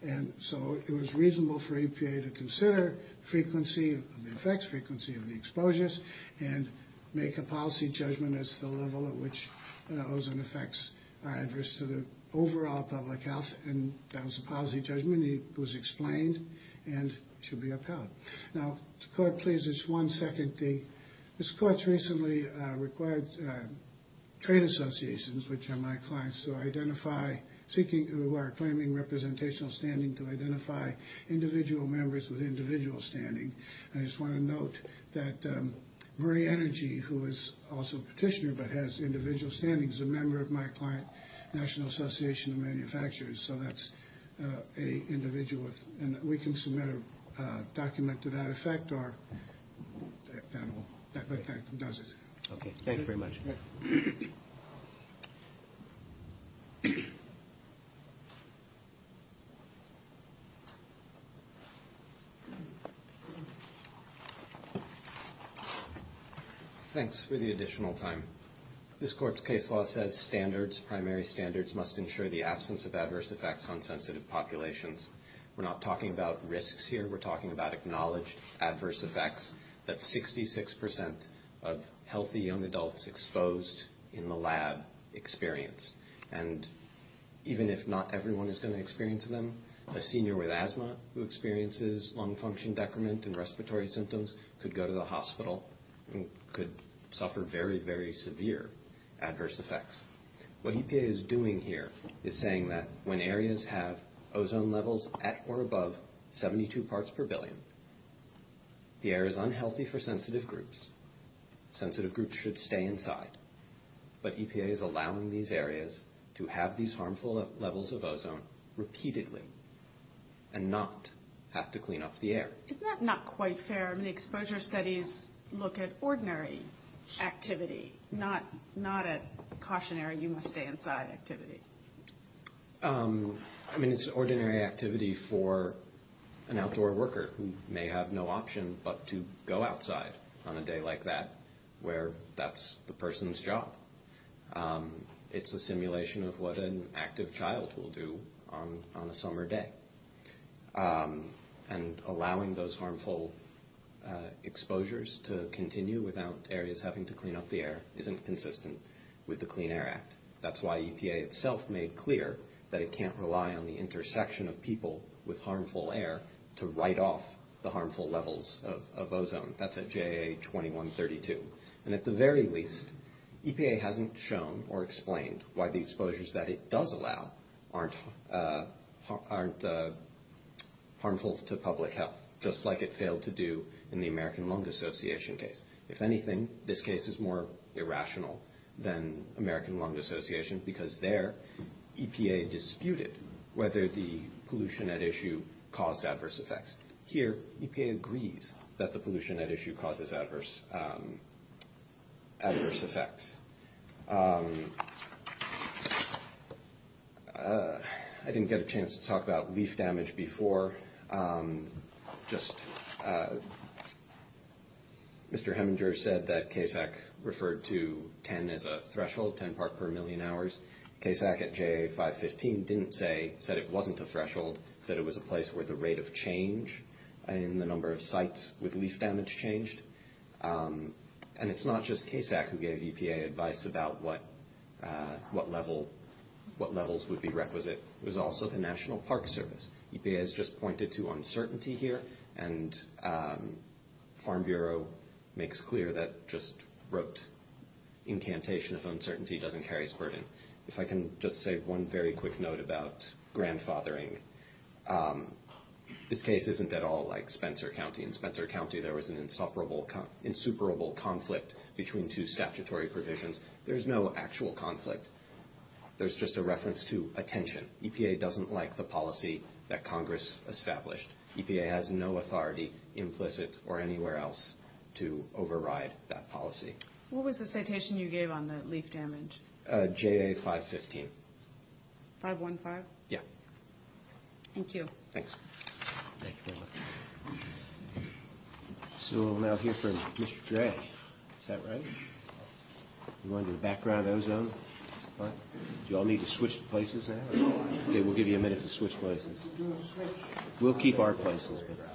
And so, it was reasonable for EPA to consider frequency of the effects, frequency of the exposures, and make a policy judgment as to the level at which ozone effects address to the overall public health. And that was a policy judgment. It was explained and should be upheld. Now, the court, please, just one second. This court recently required trade associations, which are my clients, to identify, seeking or claiming representational standing to identify individual members with individual standing. And I just want to note that Murray Energy, who is also a petitioner but has individual standing, is a member of my client, National Association of Manufacturers, so that's an individual. And we can submit a document to that effect or that effect does it. Okay, thank you very much. Thanks for the additional time. This court's case law says standards, primary standards, must ensure the absence of adverse effects on sensitive populations. We're not talking about risks here. We're talking about acknowledged adverse effects that 66% of healthy young adults exposed in the lab experience. And even if not everyone is going to experience them, a senior with asthma who experiences lung function decrement and respiratory symptoms could go to the hospital and could suffer very, very severe adverse effects. What EPA is doing here is saying that when areas have ozone levels at or above 72 parts per billion, the air is unhealthy for sensitive groups. Sensitive groups should stay inside. But EPA is allowing these areas to have these harmful levels of ozone repeatedly and not have to clean up the air. Is that not quite fair when the exposure studies look at ordinary activity, not a cautionary you must stay inside activity? I mean, it's ordinary activity for an outdoor worker who may have no option but to go outside on a day like that where that's the person's job. It's a simulation of what an active child will do on a summer day. And allowing those harmful exposures to continue without areas having to clean up the air isn't consistent with the Clean Air Act. That's why EPA itself made clear that it can't rely on the intersection of people with harmful air to write off the harmful levels of ozone. That's at JAA 2132. And at the very least, EPA hasn't shown or explained why the exposures that it does allow aren't harmful to public health, just like it failed to do in the American Lung Association case. If anything, this case is more irrational than American Lung Association because there, EPA disputed whether the pollution at issue caused adverse effects. Here, EPA agreed that the pollution at issue causes adverse effects. I didn't get a chance to talk about leaf damage before. Just Mr. Heminger said that CASAC referred to 10 as a threshold, 10 part per million hours. CASAC at JAA 515 didn't say that it wasn't a threshold, said it was a place where the rate of change and the number of sites with leaf damage changed. And it's not just CASAC who gave EPA advice about what levels would be requisite. It was also the National Park Service. EPA has just pointed to uncertainty here, and Farm Bureau makes clear that just rote incantation of uncertainty doesn't carry its burden. If I can just say one very quick note about grandfathering. This case isn't at all like Spencer County. In Spencer County, there was an insuperable conflict between two statutory provisions. There's no actual conflict. There's just a reference to attention. EPA doesn't like the policy that Congress established. EPA has no authority, implicit or anywhere else, to override that policy. What was the citation you gave on the leaf damage? JAA 515. 515? Yeah. Thank you. Thanks. Thank you very much. So we're now here for Mr. J. Is that right? You want to do the background, Ozone? Do you all need to switch places now? Okay, we'll give you a minute to switch places. We'll keep our places. Sorry about that.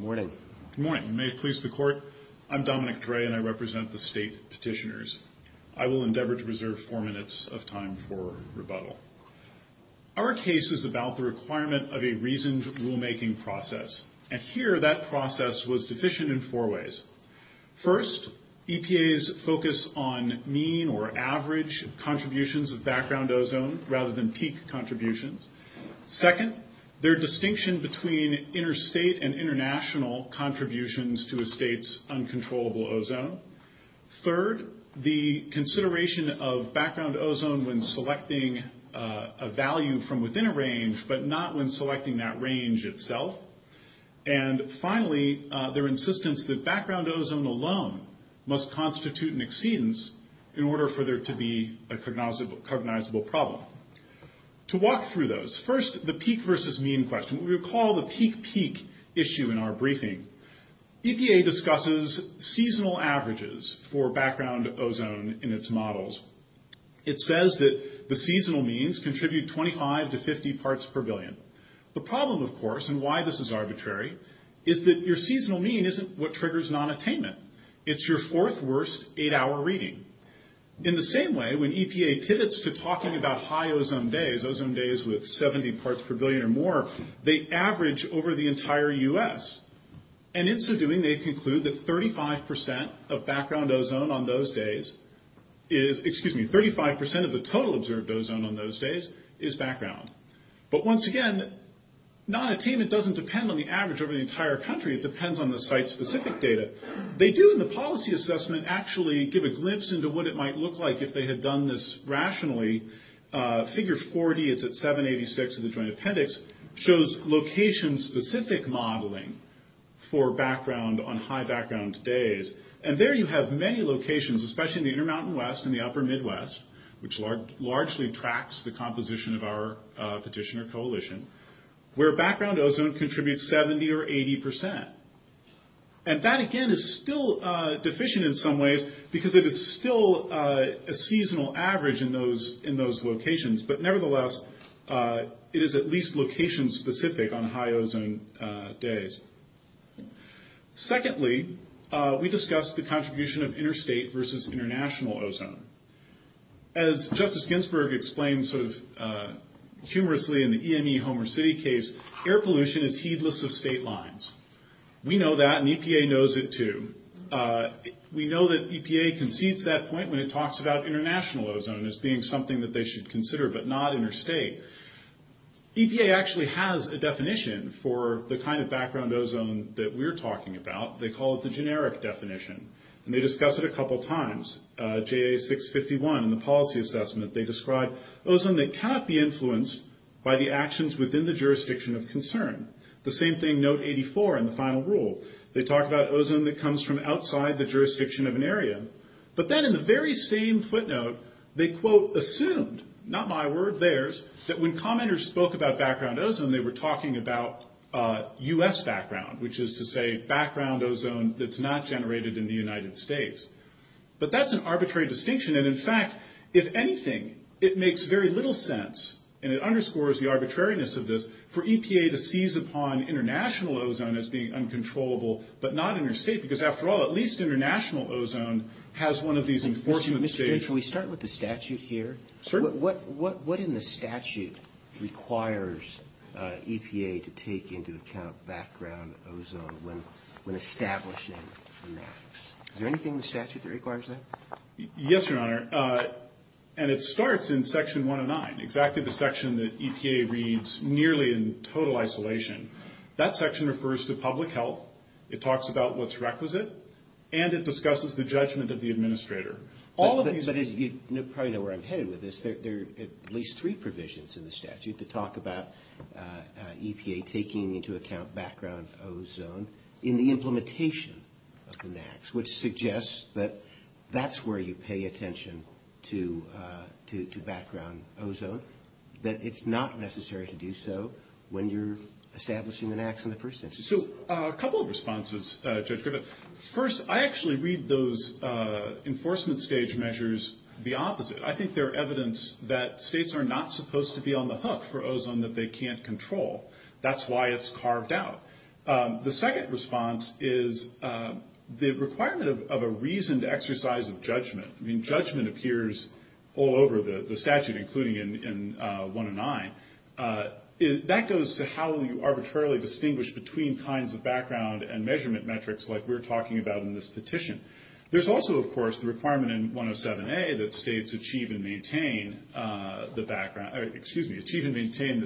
Good morning. Good morning. May it please the Court, I'm Dominic Dre, and I represent the state petitioners. I will endeavor to reserve four minutes of time for rebuttal. Our case is about the requirement of a reasoned rulemaking process, and here that process was deficient in four ways. First, EPA's focus on mean or average contributions of background ozone rather than peak contributions. Second, their distinction between interstate and international contributions to a state's uncontrollable ozone. Third, the consideration of background ozone when selecting a value from within a range, but not when selecting that range itself. And finally, their insistence that background ozone alone must constitute an exceedance in order for there to be a cognizable problem. To walk through those, first the peak versus mean question. We recall the peak-peak issue in our briefing. EPA discusses seasonal averages for background ozone in its models. It says that the seasonal means contribute 25 to 50 parts per billion. The problem, of course, and why this is arbitrary, is that your seasonal mean isn't what triggers nonattainment. It's your fourth worst eight-hour reading. In the same way, when EPA pivots to talking about high ozone days, ozone days with 70 parts per billion or more, they average over the entire U.S. And in so doing, they conclude that 35% of background ozone on those days is, excuse me, 35% of the total observed ozone on those days is background. But once again, nonattainment doesn't depend on the average over the entire country. It depends on the site-specific data. They do in the policy assessment actually give a glimpse into what it might look like if they had done this rationally. Figure 40 is at 786 in the Joint Appendix. It shows location-specific modeling for background on high background days. And there you have many locations, especially near Mountain West and the upper Midwest, which largely tracks the composition of our petitioner coalition, where background ozone contributes 70 or 80%. And that, again, is still deficient in some ways because it is still a seasonal average in those locations. But nevertheless, it is at least location-specific on high ozone days. Secondly, we discussed the contribution of interstate versus international ozone. As Justice Ginsburg explained sort of humorously in the EME Homer City case, air pollution is heedless of state lines. We know that, and EPA knows it too. We know that EPA concedes that point when it talks about international ozone as being something that they should consider but not interstate. EPA actually has a definition for the kind of background ozone that we're talking about. They call it the generic definition, and they discuss it a couple times. JA 651 in the policy assessment, they describe ozone that cannot be influenced by the actions within the jurisdiction of concern. The same thing, note 84 in the final rule. They talk about ozone that comes from outside the jurisdiction of an area. But then in the very same footnote, they, quote, assumed, not my word, theirs, that when commenters spoke about background ozone, they were talking about U.S. background, which is to say background ozone that's not generated in the United States. But that's an arbitrary distinction, and, in fact, if anything, it makes very little sense, and it underscores the arbitrariness of this, for EPA to seize upon international ozone as being uncontrollable but not interstate, because, after all, at least international ozone has one of these enforcement stages. Can we start with the statute here? Sure. What in the statute requires EPA to take into account background ozone when establishing maps? Is there anything in the statute that requires that? Yes, Your Honor. And it starts in Section 109, exactly the section that EPA reads nearly in total isolation. That section refers to public health. It talks about what's requisite, and it discusses the judgment of the administrator. You probably know where I'm headed with this. There are at least three provisions in the statute that talk about EPA taking into account background ozone in the implementation of the NAAQS, which suggests that that's where you pay attention to background ozone, that it's not necessary to do so when you're establishing the NAAQS in the first instance. So a couple of responses, Judge Griffith. First, I actually read those enforcement stage measures the opposite. I think they're evidence that states are not supposed to be on the hook for ozone that they can't control. That's why it's carved out. The second response is the requirement of a reasoned exercise of judgment. I mean, judgment appears all over the statute, including in 109. That goes to how you arbitrarily distinguish between kinds of background and measurement metrics, like we were talking about in this petition. There's also, of course, the requirement in 107A that states achieve and maintain the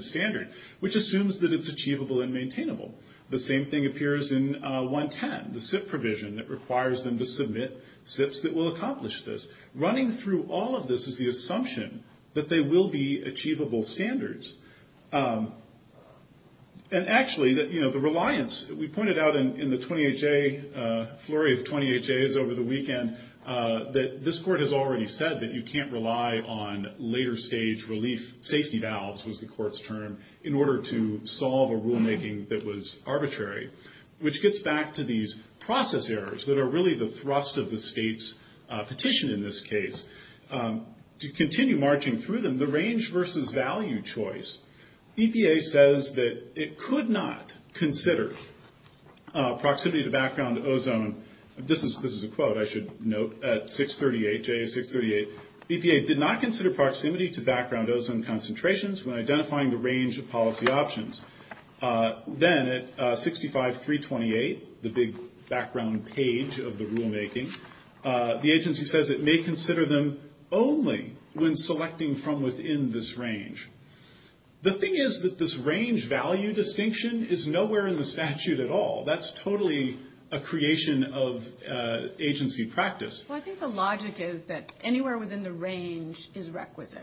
standard, which assumes that it's achievable and maintainable. The same thing appears in 110, the SIP provision that requires them to submit SIPs that will accomplish this. Running through all of this is the assumption that they will be achievable standards. And actually, you know, the reliance, we pointed out in the 20HA, flurry of 20HAs over the weekend, that this court has already said that you can't rely on later stage relief safety valves, was the court's term, in order to solve a rulemaking that was arbitrary, which gets back to these process errors that are really the thrust of the state's petition in this case. To continue marching through them, the range versus value choice. EPA says that it could not consider proximity to background ozone. This is a quote I should note. At 638HA, 638, EPA did not consider proximity to background ozone concentrations when identifying the range of policy options. Then at 65.328, the big background page of the rulemaking, the agency says it may consider them only when selecting from within this range. The thing is that this range value distinction is nowhere in the statute at all. That's totally a creation of agency practice. Well, I think the logic is that anywhere within the range is requisite.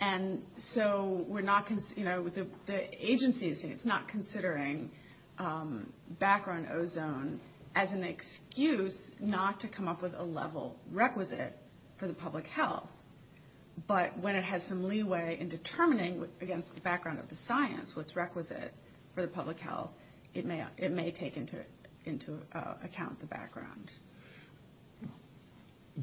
The agency is not considering background ozone as an excuse not to come up with a level requisite for the public health, but when it has some leeway in determining against the background of the science what's requisite for the public health, it may take into account the background.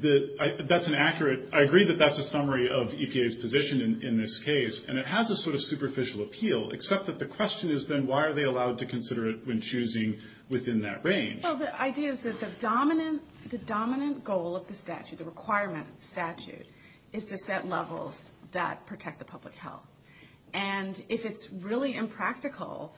I agree that that's a summary of EPA's position in this case, and it has a sort of superficial appeal except that the question is then why are they allowed to consider it when choosing within that range? The idea is that the dominant goal of the statute, the requirement of the statute, is to set levels that protect the public health. If it's really impractical,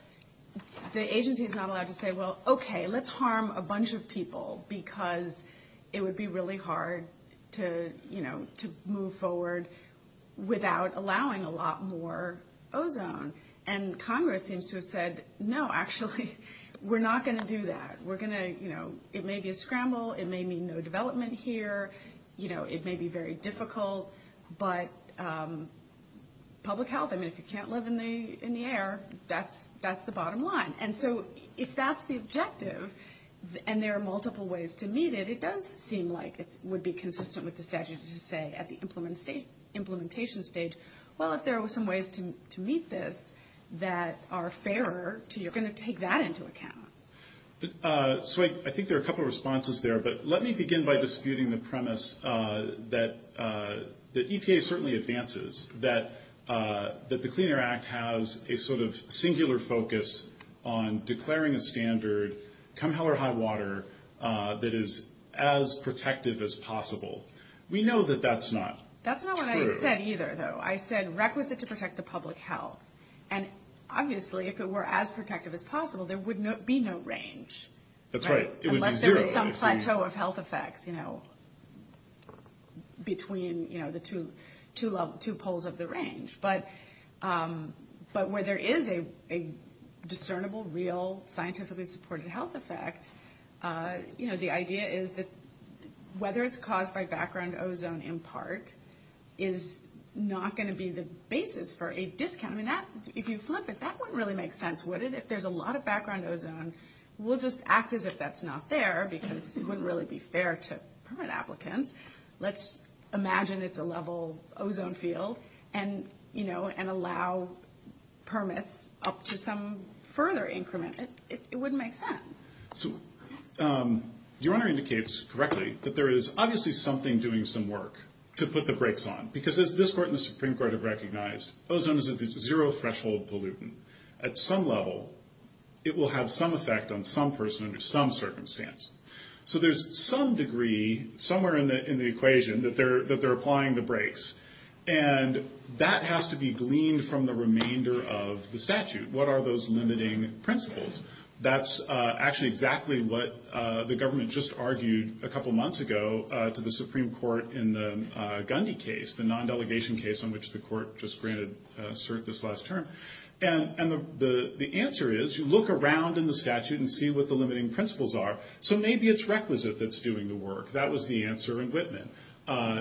the agency is not allowed to say, well, okay, let's harm a bunch of people because it would be really hard to move forward without allowing a lot more ozone, and Congress seems to have said, no, actually, we're not going to do that. It may be a scramble. It may mean no development here. It may be very difficult, but public health, I mean, if you can't live in the air, that's the bottom line. And so if that's the objective and there are multiple ways to meet it, it does seem like it would be consistent with the statute to say at the implementation stage, well, if there were some ways to meet this that are fairer, you're going to take that into account. So I think there are a couple of responses there, but let me begin by disputing the premise that EPA certainly advances, that the Clean Air Act has a sort of singular focus on declaring a standard, come hell or high water, that is as protective as possible. We know that that's not true. That's not what I said either, though. I said requisite to protect the public health. And obviously if it were as protective as possible, there would be no range. That's right. Unless there's some plateau of health effects between the two poles of the range. But where there is a discernible, real, scientifically supported health effect, the idea is that whether it's caused by background ozone in part is not going to be the basis for a discount. I mean, if you look at that, that wouldn't really make sense, would it? If there's a lot of background ozone, we'll just act as if that's not there, because it wouldn't really be fair to permit applicants. Let's imagine it's a level ozone field and allow permits up to some further increment. It wouldn't make sense. Your Honor indicates correctly that there is obviously something doing some work to put the brakes on, because as this Court and the Supreme Court have recognized, ozone is a zero-threshold pollutant. At some level, it will have some effect on some person under some circumstance. So there's some degree, somewhere in the equation, that they're applying the brakes. And that has to be gleaned from the remainder of the statute. What are those limiting principles? That's actually exactly what the government just argued a couple months ago to the Supreme Court in the Gundy case, the non-delegation case on which the Court just granted cert this last term. And the answer is, you look around in the statute and see what the limiting principles are. So maybe it's requisite that's doing the work. That was the answer in Whitman.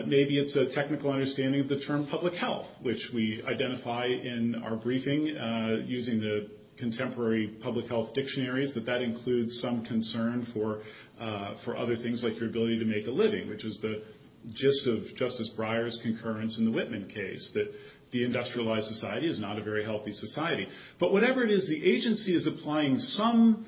Maybe it's a technical understanding of the term public health, which we identify in our briefing using the contemporary public health dictionaries, that that includes some concern for other things like the ability to make a living, which is the gist of Justice Breyer's concurrence in the Whitman case, that the industrialized society is not a very healthy society. But whatever it is, the agency is applying some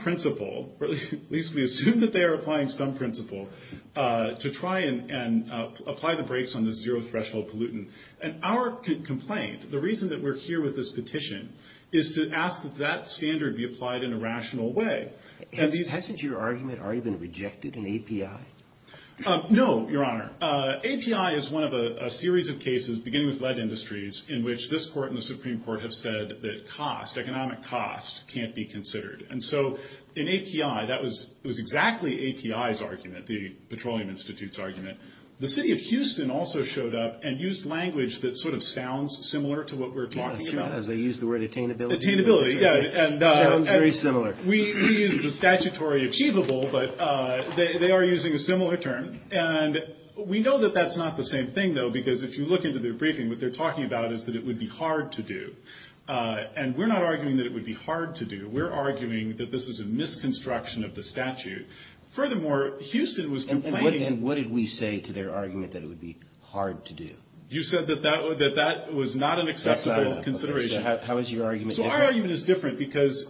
principle, or at least we assume that they are applying some principle, to try and apply the brakes on the zero-threshold pollutant. And our complaint, the reason that we're here with this petition, is to ask that that standard be applied in a rational way. Hasn't your argument already been rejected in API? No, Your Honor. API is one of a series of cases, beginning with lead industries, in which this court and the Supreme Court have said that cost, economic cost, can't be considered. And so in API, that was exactly API's argument, the Petroleum Institute's argument. The city of Houston also showed up and used language that sort of sounds similar to what we're talking about. Yeah, sure, as they use the word attainability. Attainability, yeah. Sounds very similar. We use the statutory achievable, but they are using a similar term. And we know that that's not the same thing, though, because if you look into their briefing, what they're talking about is that it would be hard to do. And we're not arguing that it would be hard to do. We're arguing that this was a misconstruction of the statute. Furthermore, Houston was complaining. And what did we say to their argument that it would be hard to do? You said that that was not an acceptable consideration. How is your argument different? First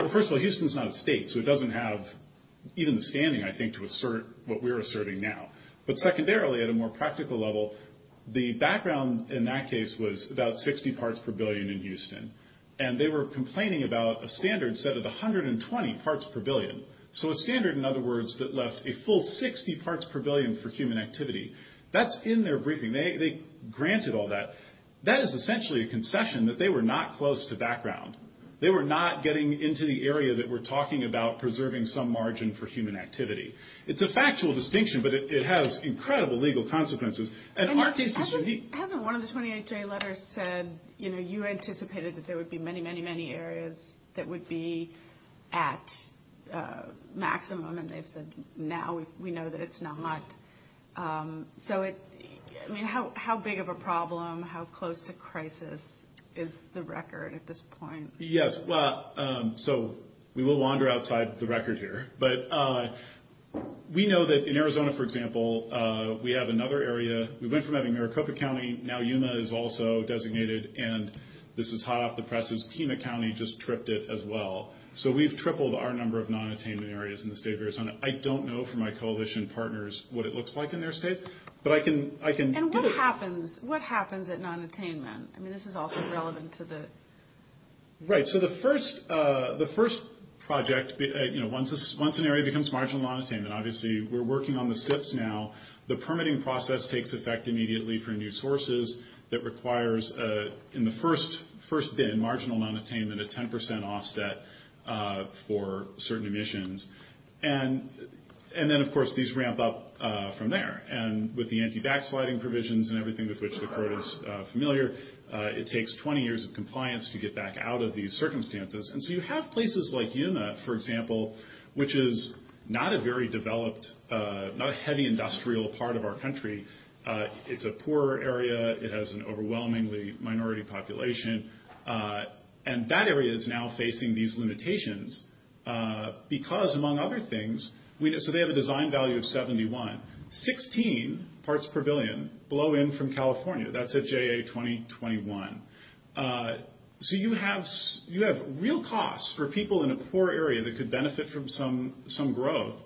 of all, Houston is not a state, so it doesn't have even the standing, I think, to assert what we're asserting now. But secondarily, at a more practical level, the background in that case was about 60 parts per billion in Houston. And they were complaining about a standard set of 120 parts per billion, so a standard, in other words, that left a full 60 parts per billion for human activity. That's in their briefing. They granted all that. But that is essentially a concession that they were not close to background. They were not getting into the area that we're talking about preserving some margin for human activity. It's a factual distinction, but it has incredible legal consequences. And in our case, Mr. Heath. I remember one of the 28-day letters said, you know, you anticipated that there would be many, many, many areas that would be at maximum, and they said now we know that it's not. So, I mean, how big of a problem, how close to crisis is the record at this point? Yes, well, so we will wander outside the record here. But we know that in Arizona, for example, we have another area. We went from having Maricopa County, now Yuma is also designated, and this is hot off the presses. Pima County just tripped it as well. So we've tripled our number of non-attainment areas in the state of Arizona. I don't know from my coalition partners what it looks like in their state, but I can give it to you. And what happens at non-attainment? I mean, this is also relevant to the. Right, so the first project, you know, once an area becomes marginal non-attainment, obviously we're working on the SIFs now. The permitting process takes effect immediately for new sources that requires, in the first bid, marginal non-attainment, a 10% offset for certain emissions. And then, of course, these ramp up from there. And with the anti-backsliding provisions and everything with which the court is familiar, it takes 20 years of compliance to get back out of these circumstances. And so you have places like Yuma, for example, which is not a very developed, not a heavy industrial part of our country. It's a poorer area. It has an overwhelmingly minority population. And that area is now facing these limitations because, among other things, so they have a design value of 71. Sixteen parts per billion blow in from California. That's a JA 2021. So you have real costs for people in a poor area that could benefit from some growth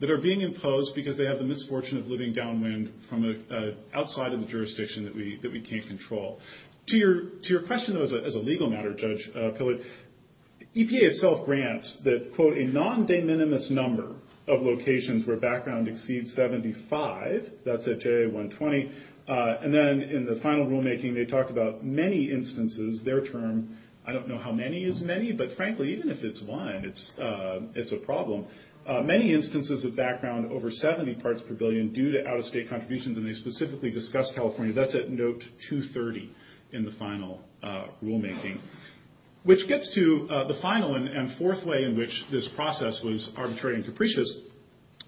that are being imposed because they have the misfortune of living downwind from outside of the jurisdiction that we can't control. To your question, though, as a legal matter, Judge Pillow, EPA itself grants that, quote, a non-de minimis number of locations where background exceeds 75, that's a JA 120. And then in the final rulemaking, they talk about many instances. Their term, I don't know how many is many, but, frankly, even if it's one, it's a problem. Many instances with background over 70 parts per billion due to out-of-state contributions, and they specifically discuss California, that's at note 230 in the final rulemaking. Which gets to the final and fourth way in which this process was arbitrary and capricious.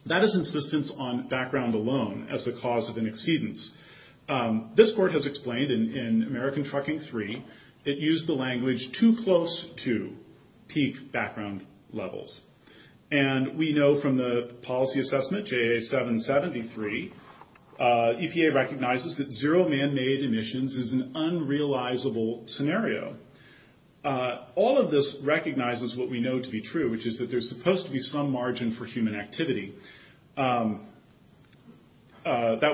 That is insistence on background alone as the cause of an exceedance. This court has explained in American Trucking 3, it used the language too close to peak background levels. And we know from the policy assessment, JA 773, EPA recognizes that zero man-made emissions is an unrealizable scenario. All of this recognizes what we know to be true, which is that there's supposed to be some margin for human activity. That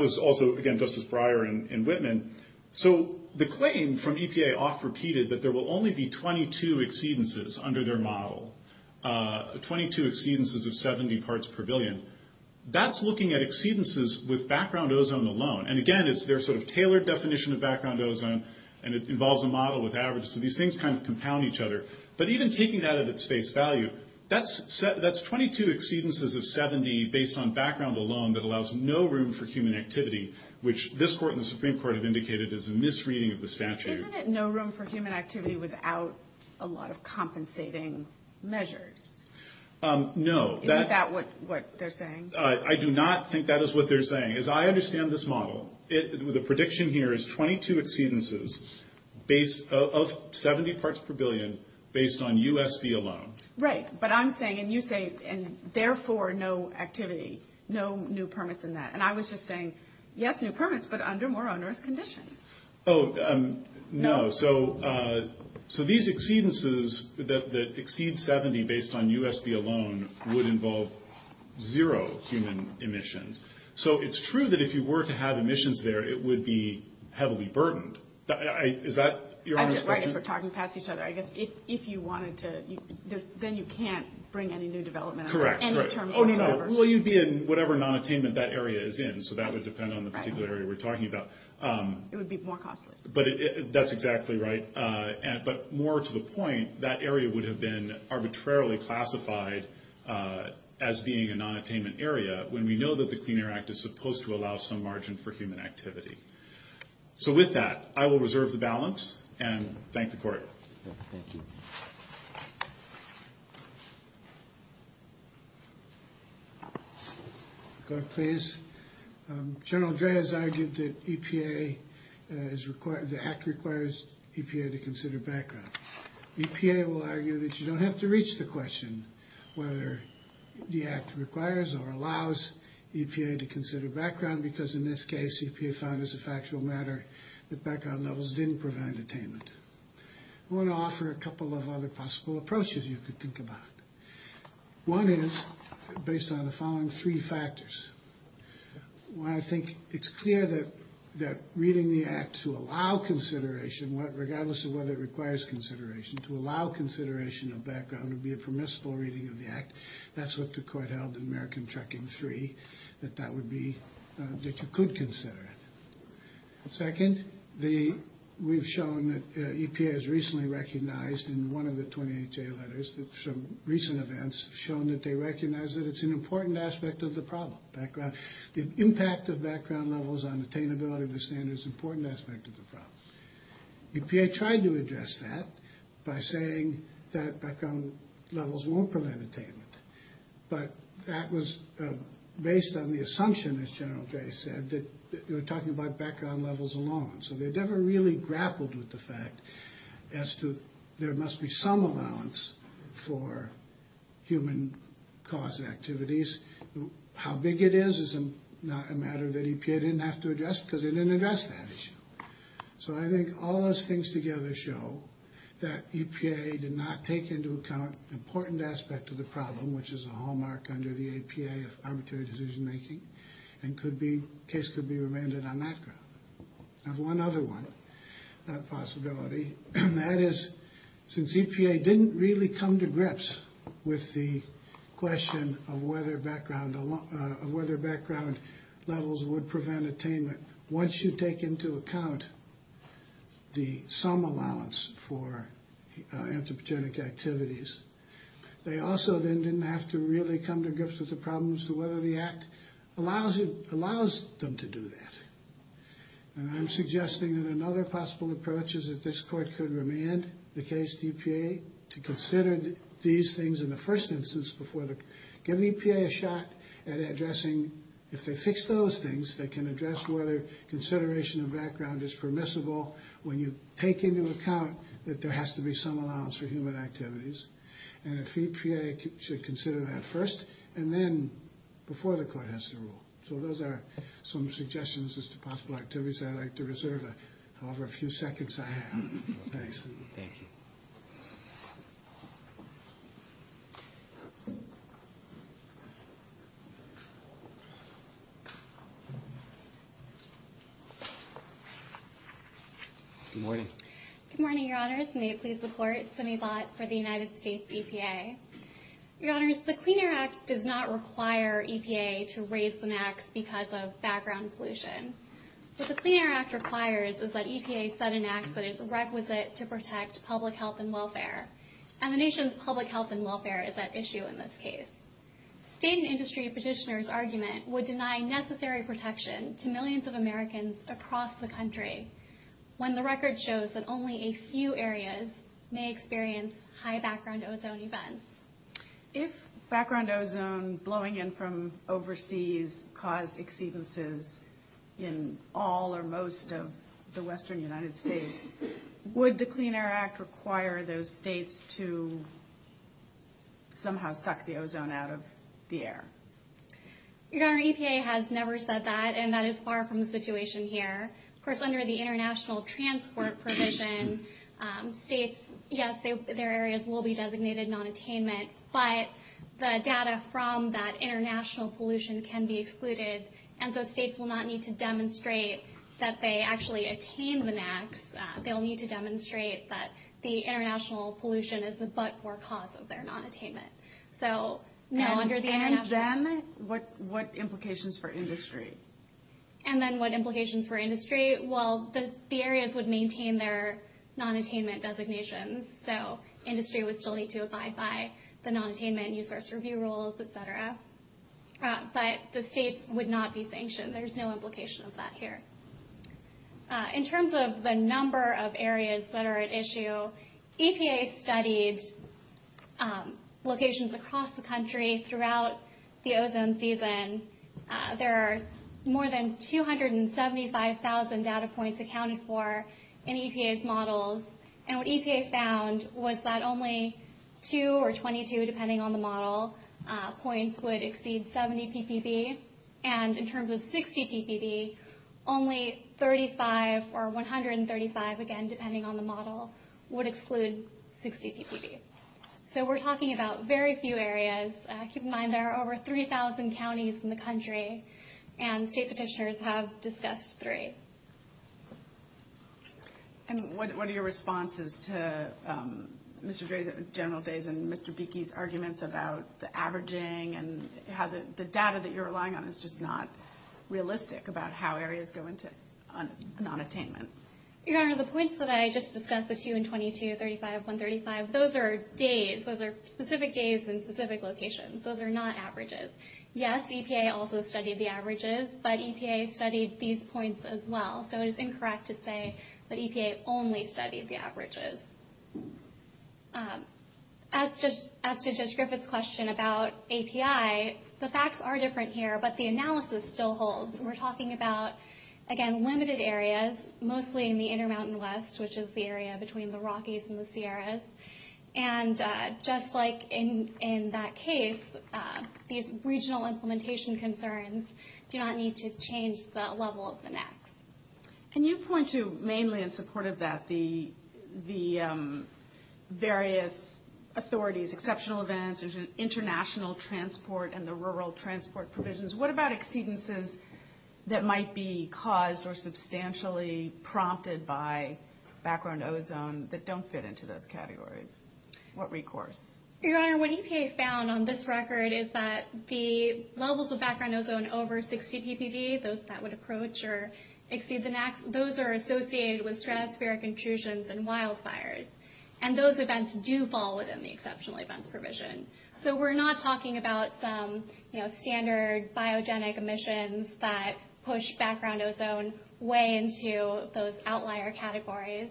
was also, again, Justice Breyer in Whitman. So the claim from EPA off-repeated that there will only be 22 exceedances under their model, 22 exceedances of 70 parts per billion, that's looking at exceedances with background ozone alone. And, again, it's their sort of tailored definition of background ozone, and it involves a model with average. So these things kind of compound each other. But even taking that out of its face value, that's 22 exceedances of 70 based on background alone that allows no room for human activity, which this court and the Supreme Court have indicated is a misreading of the statute. Isn't it no room for human activity without a lot of compensating measures? No. Is that what they're saying? I do not think that is what they're saying. As I understand this model, the prediction here is 22 exceedances of 70 parts per billion based on USB alone. Right. But I'm saying, and you say, and therefore no activity, no new permits in that. And I was just saying, yes, new permits, but under more on-Earth conditions. Oh, no. So these exceedances that exceed 70 based on USB alone would involve zero human emissions. So it's true that if you were to have emissions there, it would be heavily burdened. Is that your honest question? If you wanted to, then you can't bring any new development. Correct. Will you be in whatever nonattainment that area is in? So that would depend on the particular area we're talking about. It would be more costly. That's exactly right. But more to the point, that area would have been arbitrarily classified as being a nonattainment area when we know that the Clean Air Act is supposed to allow some margin for human activity. So with that, I will reserve the balance and thank the court. Thank you. Clerk, please. General Dre has argued that EPA, the Act requires EPA to consider background. EPA will argue that you don't have to reach the question whether the Act requires or allows EPA to consider background because in this case, EPA found as a factual matter that background levels didn't provide attainment. I want to offer a couple of other possible approaches you could think about. One is based on the following three factors. One, I think it's clear that reading the Act to allow consideration, regardless of whether it requires consideration, to allow consideration of background would be a permissible reading of the Act. That's what the court held in American Trucking 3, that you could consider it. Second, we've shown that EPA has recently recognized in one of the 28-J letters, some recent events have shown that they recognize that it's an important aspect of the problem. The impact of background levels on attainability of the standard is an important aspect of the problem. EPA tried to address that by saying that background levels won't provide attainment. But that was based on the assumption, as General Dre said, that we're talking about background levels alone. So they never really grappled with the fact as to there must be some allowance for human-caused activities. How big it is is not a matter that EPA didn't have to address because they didn't address that issue. So I think all those things together show that EPA did not take into account an important aspect of the problem, which is a hallmark under the APA of arbitrary decision-making, and the case could be remanded on that ground. I have one other one, a possibility. That is, since EPA didn't really come to grips with the question of whether background levels would prevent attainment, once you take into account the sum allowance for anthropogenic activities, they also then didn't have to really come to grips with the problem as to whether the Act allows them to do that. And I'm suggesting that another possible approach is that this Court could remand the case to EPA to consider these things in the first instance before the... Give EPA a shot at addressing... If they fix those things, they can address whether consideration of background is permissible when you take into account that there has to be some allowance for human activities. And EPA should consider that first and then before the Court has to rule. So those are some suggestions as to possible activities I'd like to reserve however few seconds I have. Thanks. Absolutely, thank you. Good morning. Good morning, Your Honors. May it please the Court. Simi Lott for the United States EPA. Your Honors, the Clean Air Act does not require EPA to raise an act because of background solution. What the Clean Air Act requires is that EPA set an act that is requisite to protect public health and welfare. And the nation's public health and welfare is at issue in this case. State and industry petitioners' argument would deny necessary protection to millions of Americans across the country when the record shows that only a few areas may experience high background ozone events. If background ozone blowing in from overseas caused exceedances in all or most of the western United States, would the Clean Air Act require those states to somehow suck the ozone out of the air? Your Honor, EPA has never said that, and that is far from the situation here. Of course, under the International Transport Provision, states, yes, their areas will be designated non-attainment, but the data from that international pollution can be excluded, and so states will not need to demonstrate that they actually attain the NAAQS. They'll need to demonstrate that the international pollution is the but-for cause of their non-attainment. So, no, under the NAAQS. And then what implications for industry? And then what implications for industry? Well, the areas would maintain their non-attainment designations, so industry would still need to abide by the non-attainment resource review rules, et cetera. But the states would not be sanctioned. There's no implication of that here. In terms of the number of areas that are at issue, EPA studied locations across the country throughout the ozone season. There are more than 275,000 data points accounted for in EPA's models. And what EPA found was that only 2 or 22, depending on the model, points would exceed 70 ppb. And in terms of 60 ppb, only 35 or 135, again, depending on the model, would exclude 60 ppb. So we're talking about very few areas. Keep in mind there are over 3,000 counties in the country, and state petitioners have discussed three. And what are your responses to Mr. Gray's general days and Mr. Beeky's arguments about the averaging and how the data that you're relying on is just not realistic about how areas go into non-attainment? Your Honor, the points that I just discussed, the 2 and 22, 35, 135, those are days. Those are not averages. Yes, EPA also studied the averages, but EPA studied these points as well. So it's incorrect to say that EPA only studied the averages. As to Judge Griffith's question about API, the facts are different here, but the analysis still holds. We're talking about, again, limited areas, mostly in the Intermountain West, and just like in that case, these regional implementation concerns do not need to change the level of the NAC. Can you point to, mainly in support of that, the various authorities, exceptional events, international transport, and the rural transport provisions? What about exceedances that might be caused or substantially prompted by background ozone that don't fit into those categories? What recourse? Your Honor, what EPA found on this record is that the levels of background ozone over 60 dBV, those that would approach or exceed the NAC, those are associated with stratospheric intrusions and wildfires. And those events do fall within the exceptional events provision. So we're not talking about standard biogenic emissions that push background ozone way into those outlier categories.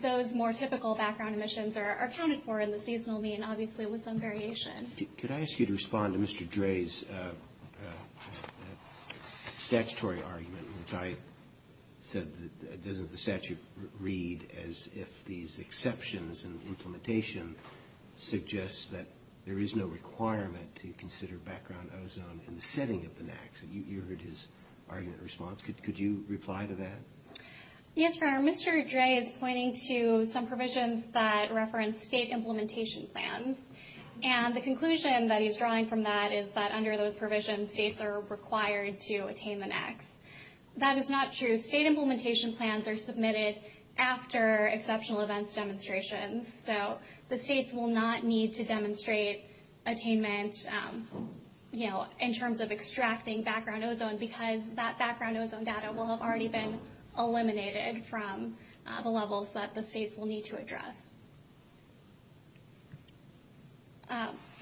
Those more typical background emissions are accounted for in the seasonal mean, obviously, with some variation. Could I ask you to respond to Mr. Dre's statutory argument, which I said doesn't the statute read as if these exceptions in the implementation suggests that there is no requirement to consider background ozone in the setting of the NACs? You heard his argument in response. Could you reply to that? Yes, Your Honor. Mr. Dre is pointing to some provisions that reference state implementation plans. And the conclusion that he's drawing from that is that under those provisions, states are required to attain the NACs. That is not true. State implementation plans are submitted after exceptional events demonstrations. So the states will not need to demonstrate attainment, you know, in terms of extracting background ozone, because that background ozone data will have already been eliminated from the levels that the states will need to address.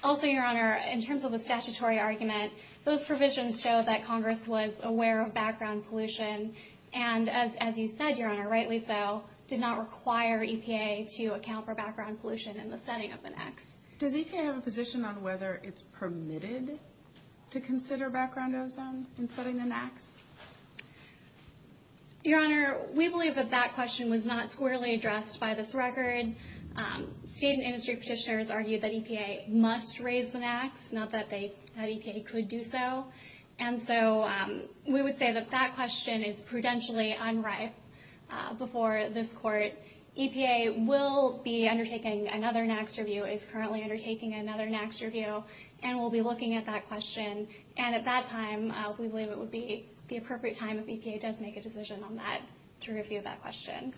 Also, Your Honor, in terms of the statutory argument, those provisions show that Congress was aware of background pollution, and as you said, Your Honor, rightly so, did not require EPA to account for background pollution in the setting of the NACs. Does EPA have a position on whether it's permitted to consider background ozone in setting the NACs? Your Honor, we believe that that question was not squarely addressed by this record. State and industry petitioners argue that EPA must raise the NACs, not that EPA could do so. And so we would say that that question is prudentially unright before this Court. EPA will be undertaking another NACs review, is currently undertaking another NACs review, and will be looking at that question. And at that time, we believe it would be the appropriate time if EPA does make a decision on that, to review that question.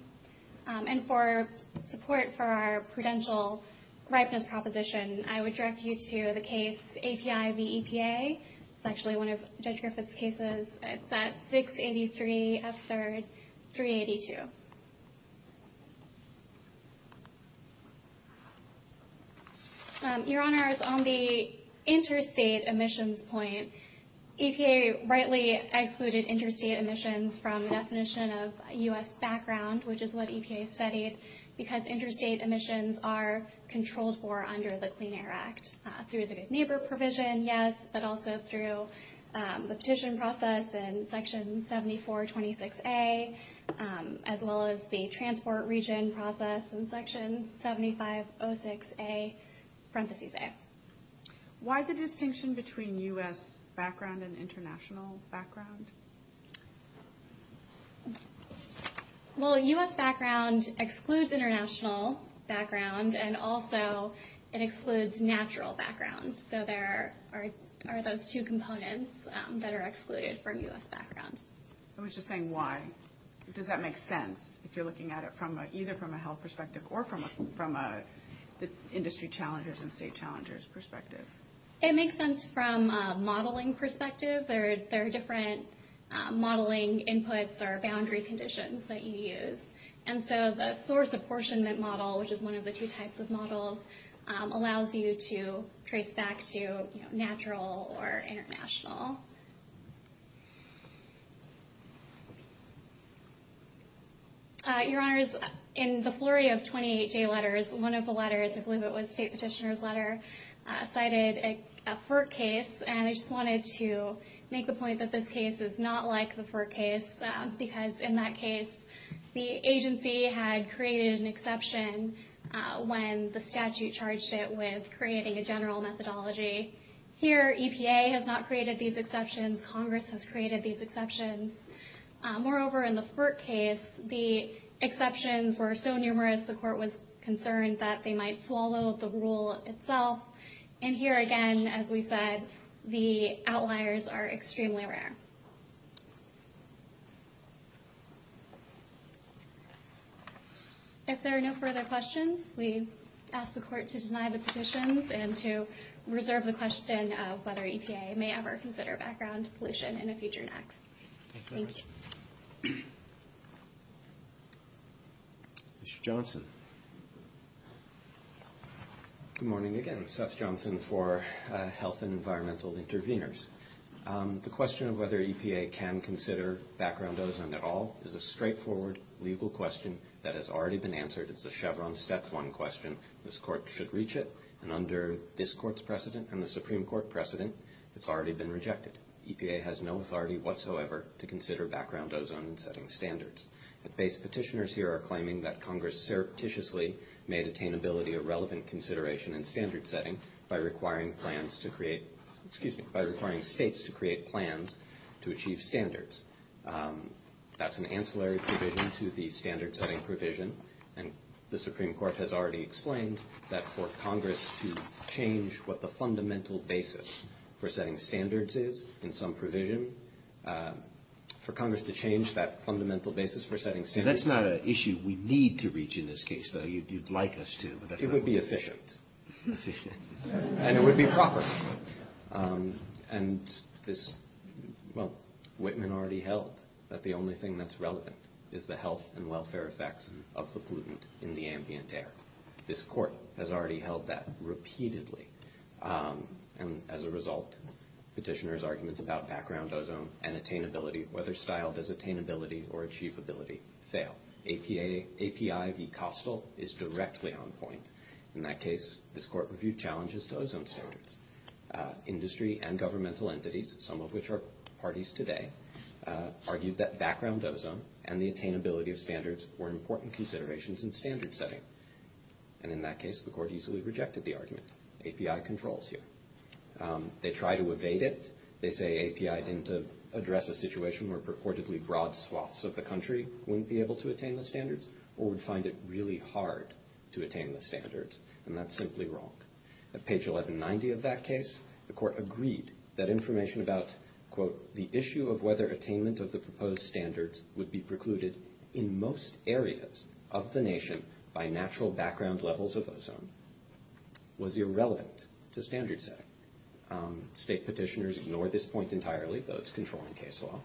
And for support for our prudential ripeness proposition, I would direct you to the case API v. EPA. It's actually one of Judge Griffith's cases. It's that 683S3-382. Your Honor, it's on the interstate emissions point. EPA rightly excluded interstate emissions from the definition of U.S. background, which is what EPA studied, because interstate emissions are controlled for under the Clean Air Act. Through the neighbor provision, yes, but also through the petition process in Section 7426A, as well as the transport region process in Section 7506A, parentheses A. Why the distinction between U.S. background and international background? Well, U.S. background excludes international background, and also it excludes natural background. So there are those two components that are excluded from U.S. background. I was just saying why. Does that make sense, if you're looking at it either from a health perspective or from an industry challenges and state challenges perspective? It makes sense from a modeling perspective. There are different modeling inputs or boundary conditions that you use. And so the source apportionment model, which is one of the two types of models, allows you to trace back to natural or international. Your Honors, in the flurry of 28 J letters, one of the letters, I believe it was a state petitioner's letter, cited a FERC case, and I just wanted to make the point that this case is not like the FERC case, because in that case, the agency had created an exception when the statute charged it with creating a general methodology. Here, EPA has not created these exceptions. Congress has created these exceptions. Moreover, in the FERC case, the exceptions were so numerous, the court was concerned that they might swallow the rule itself. And here again, as we said, the outliers are extremely rare. If there are no further questions, we ask the court to deny the petitions and to reserve the question of whether EPA may ever consider background pollution in a future act. Thank you. Mr. Johnson. Good morning again. Seth Johnson for Health and Environmental Intervenors. The question of whether EPA can consider background pollution at all is a straightforward legal question that has already been answered. It's a Chevron step one question. This court should reach it, and under this court's precedent and the Supreme Court precedent, it's already been rejected. EPA has no authority whatsoever to consider background ozone in setting standards. The base petitioners here are claiming that Congress surreptitiously made attainability a relevant consideration in standard setting by requiring plans to create – excuse me, by requiring states to create plans to achieve standards. That's an ancillary provision to the standard setting provision, and the Supreme Court has already explained that for Congress to change what the fundamental basis for setting standards is in some provision, for Congress to change that fundamental basis for setting standards. That's not an issue we need to reach in this case, though you'd like us to. It would be efficient. Efficient. And it would be proper. And this – well, Whitman already held that the only thing that's relevant is the health and welfare effects of the pollutant in the ambient air. This court has already held that repeatedly. And as a result, petitioners' arguments about background ozone and attainability, whether styled as attainability or achievability, fail. API v. Kostal is directly on point. In that case, this court reviewed challenges to ozone standards. Industry and governmental entities, some of which are parties today, argued that background ozone and the attainability of standards were important considerations in standard setting. And in that case, the court easily rejected the argument. API controls here. They try to evade it. They say API didn't address a situation where purportedly broad swaths of the country wouldn't be able to attain the standards or would find it really hard to attain the standards. And that's simply wrong. The issue of whether attainment of the proposed standards would be precluded in most areas of the nation by natural background levels of ozone was irrelevant to standards setting. State petitioners ignore this point entirely, though it's controlling case law.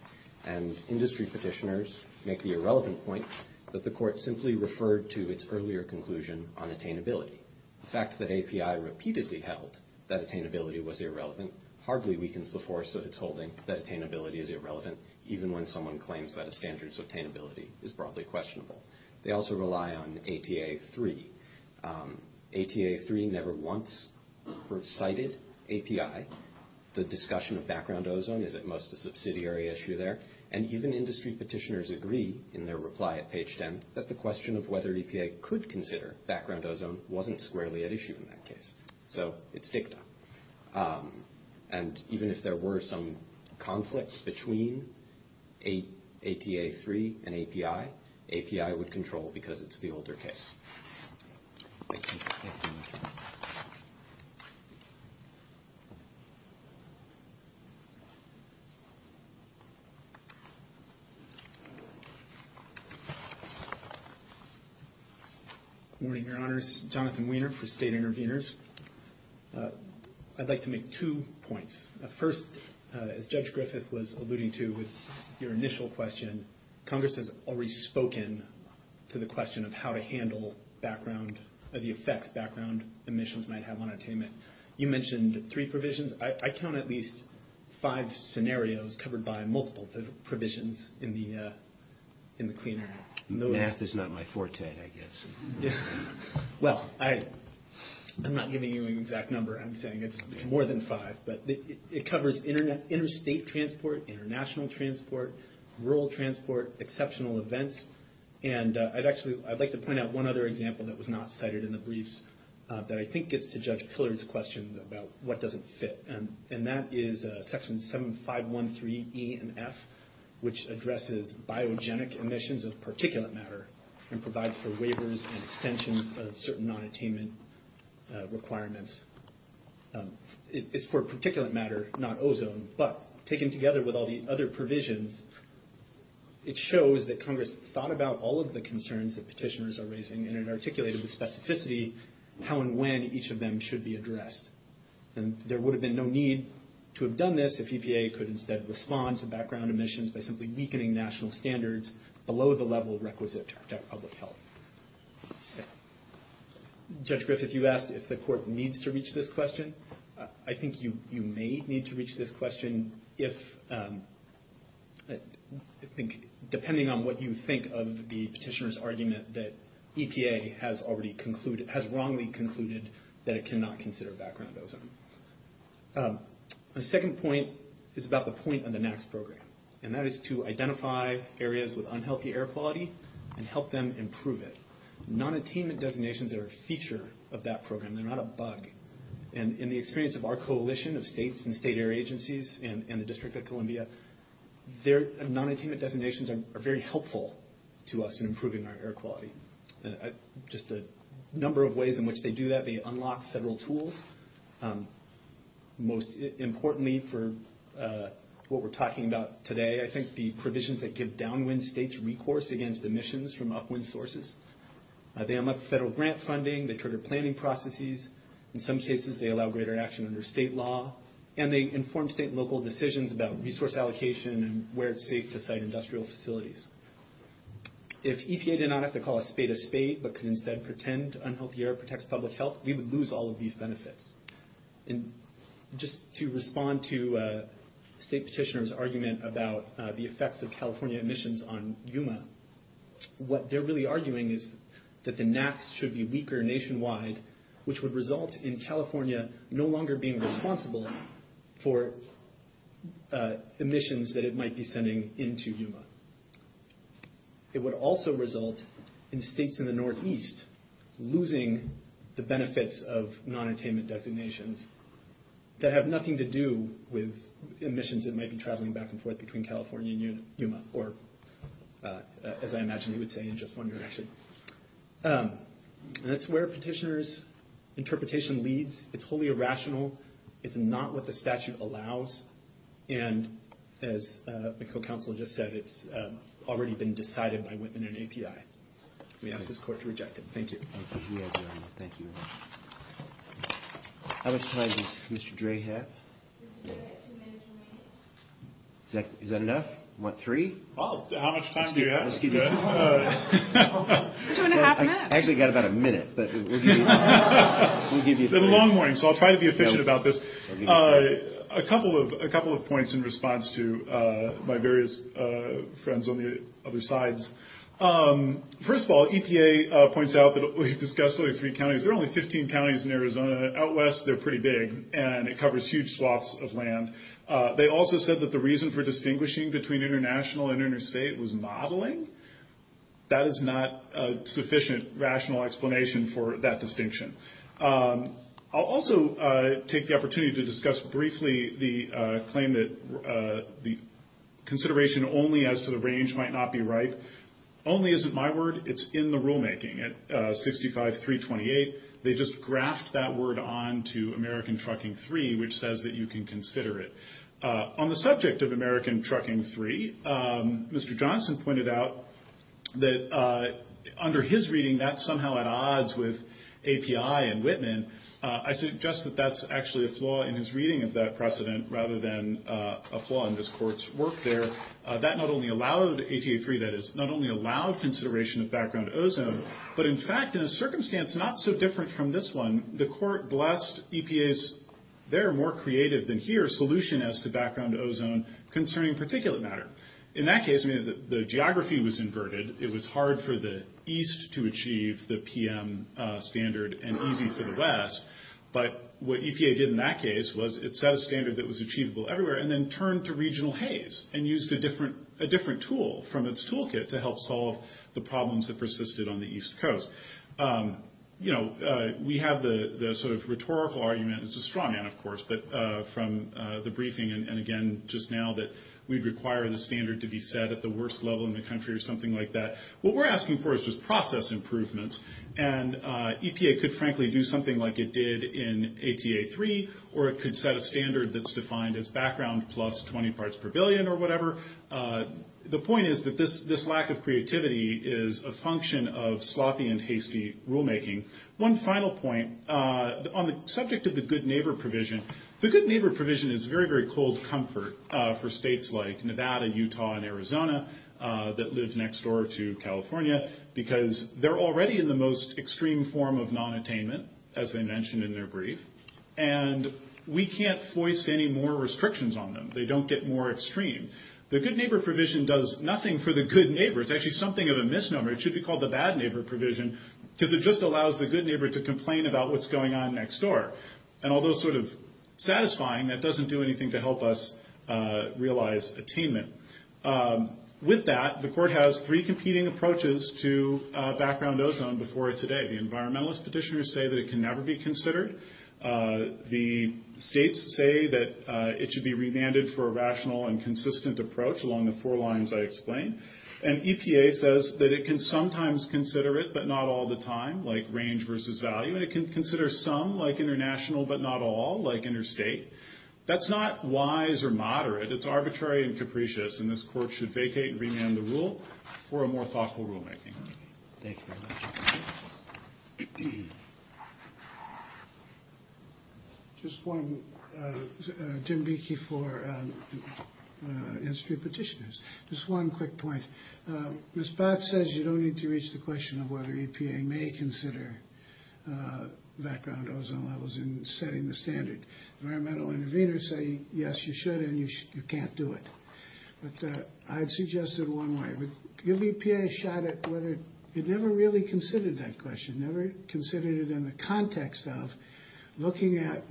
And industry petitioners make the irrelevant point that the court simply referred to its earlier conclusion on attainability. The fact that API repeatedly held that attainability was irrelevant hardly weakens the force that it's holding that attainability is irrelevant, even when someone claims that a standard's attainability is broadly questionable. They also rely on APA 3. APA 3 never once recited API. The discussion of background ozone is at most a subsidiary issue there. And even industry petitioners agree in their reply at page 10 that the question of whether EPA could consider background ozone wasn't squarely at issue in that case. So it's dictum. And even if there were some conflicts between APA 3 and API, API would control because it's the older case. Thank you. Good morning, Your Honors. Jonathan Weiner for State Interveners. I'd like to make two points. First, as Judge Griffith was alluding to with your initial question, Congress has already spoken to the question of how to handle background or the effects background emissions might have on attainment. You mentioned three provisions. I count at least five scenarios covered by multiple provisions in the Clean Air Act. Math is not my forte, I guess. Well, I'm not giving you an exact number. I'm saying it's more than five. But it covers interstate transport, international transport, rural transport, exceptional events. And I'd like to point out one other example that was not cited in the briefs that I think gets to Judge Pillard's question about what doesn't fit. And that is Section 7513E and F, which addresses biogenic emissions of particulate matter and provides for waivers and extensions of certain non-attainment requirements. It's for particulate matter, not ozone. But taken together with all the other provisions, it shows that Congress thought about all of the concerns that petitioners are raising and articulated in specificity how and when each of them should be addressed. And there would have been no need to have done this if EPA could instead respond to background emissions by simply weakening national standards below the level requisite to protect public health. Judge Griffith, you asked if the Court needs to reach this question. I think you may need to reach this question if, depending on what you think of the petitioner's argument, that EPA has wrongly concluded that it cannot consider background ozone. The second point is about the point of the NAAQS program. And that is to identify areas with unhealthy air quality and help them improve it. Non-attainment designations are a feature of that program. They're not a bug. And in the experience of our coalition of states and state air agencies and the District of Columbia, their non-attainment designations are very helpful to us in improving our air quality. Just a number of ways in which they do that, they unlock several tools. Most importantly for what we're talking about today, I think the provisions that give downwind states recourse against emissions from upwind sources. They unlock federal grant funding. They trigger planning processes. In some cases, they allow greater action under state law. And they inform state and local decisions about resource allocation and where it's safe to site industrial facilities. If EPA did not have to call a spade a spade but could instead pretend unhealthy air protects public health, we would lose all of these benefits. And just to respond to State Petitioner's argument about the effects of California emissions on Yuma, what they're really arguing is that the NAAQS should be weaker nationwide, which would result in California no longer being responsible for emissions that it might be sending into Yuma. It would also result in states in the northeast losing the benefits of non-attainment designations that have nothing to do with emissions that might be traveling back and forth between California and Yuma, or as I imagine you would say, in just one direction. And that's where Petitioner's interpretation leads. It's wholly irrational. It's not what the statute allows. And as the co-counsel just said, it's already been decided by within an API. We ask this court to reject it. Thank you. Thank you. How much time does Mr. Dre have? Is that enough? You want three? How much time do you have? Two and a half minutes. I've only got about a minute. It's been a long morning, so I'll try to be efficient about this. A couple of points in response to my various friends on the other side. First of all, EPA points out that we've discussed only three counties. There are only 15 counties in Arizona. Out west, they're pretty big, and it covers huge swaths of land. They also said that the reason for distinguishing between international and interstate was modeling. That is not a sufficient rational explanation for that distinction. I'll also take the opportunity to discuss briefly the claim that the consideration only as to the range might not be right. Only isn't my word. It's in the rulemaking. At 65-328, they just graphed that word on to American Trucking 3, which says that you can consider it. On the subject of American Trucking 3, Mr. Johnson pointed out that under his reading, that's somehow at odds with API and Whitman. I suggest that that's actually a flaw in his reading of that precedent rather than a flaw in this court's work there. That not only allowed ATA 3, that is, not only allowed consideration of background ozone, but in fact, in a circumstance not so different from this one, the court blessed EPA's there more creative than here solution as to background ozone concerning particulate matter. In that case, the geography was inverted. It was hard for the east to achieve the PM standard and easy for the west, but what EPA did in that case was it set a standard that was achievable everywhere and then turned to regional haze and used a different tool from its toolkit to help solve the problems that persisted on the east coast. You know, we have the sort of rhetorical argument. It's a straw man, of course, but from the briefing and, again, just now that we'd require the standard to be set at the worst level in the country or something like that. What we're asking for is just process improvements, and EPA could frankly do something like it did in ATA 3 or it could set a standard that's defined as background plus 20 parts per billion or whatever. The point is that this lack of creativity is a function of sloppy and hasty rulemaking. One final point, on the subject of the good neighbor provision, the good neighbor provision is very, very cold comfort for states like Nevada and Utah and Arizona that live next door to California because they're already in the most extreme form of nonattainment, as I mentioned in their brief, and we can't voice any more restrictions on them. They don't get more extreme. The good neighbor provision does nothing for the good neighbor. It's actually something of a misnomer. It should be called the bad neighbor provision because it just allows the good neighbor to complain about what's going on next door. And although sort of satisfying, it doesn't do anything to help us realize attainment. With that, the court has three competing approaches to background ozone before today. The environmentalist petitioners say that it can never be considered. The states say that it should be remanded for a rational and consistent approach along the four lines I explained, and EPA says that it can sometimes consider it but not all the time, like range versus value. It can consider some, like international, but not all, like interstate. That's not wise or moderate. It's arbitrary and capricious, and this court should vacate and remand the rule for a more thoughtful rulemaking. Thank you very much. Just one, Jim Beeky, for institute petitioners. Just one quick point. Ms. Bott says you don't need to reach the question of whether EPA may consider background ozone levels in setting the standard. Environmental intervenors say, yes, you should, and you can't do it. But I'd suggest it one way. Give the EPA a shot at whether it never really considered that question, never considered it in the context of looking at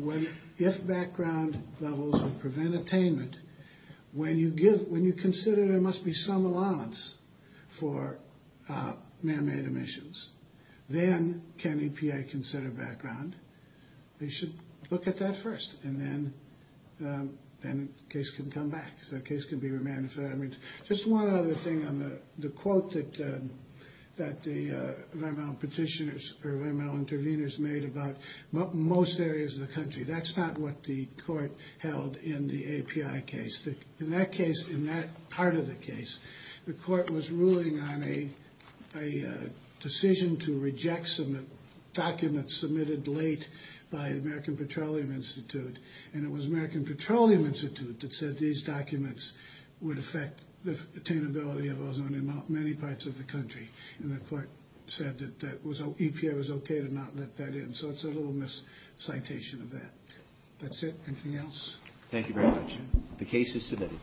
if background levels would prevent attainment. When you consider there must be some allowance for manmade emissions, then can EPA consider background? They should look at that first, and then the case can come back. The case can be remanded for that. Just one other thing on the quote that the environmental petitioners or environmental intervenors made about most areas of the country. That's not what the court held in the API case. In that case, in that part of the case, the court was ruling on a decision to reject some documents submitted late by American Petroleum Institute, and it was American Petroleum Institute that said these documents would affect the attainability of ozone in many parts of the country. And the court said that EPA was okay to not let that in. So it's a little miscitation of that. That's it. Anything else? Thank you very much. The case is submitted.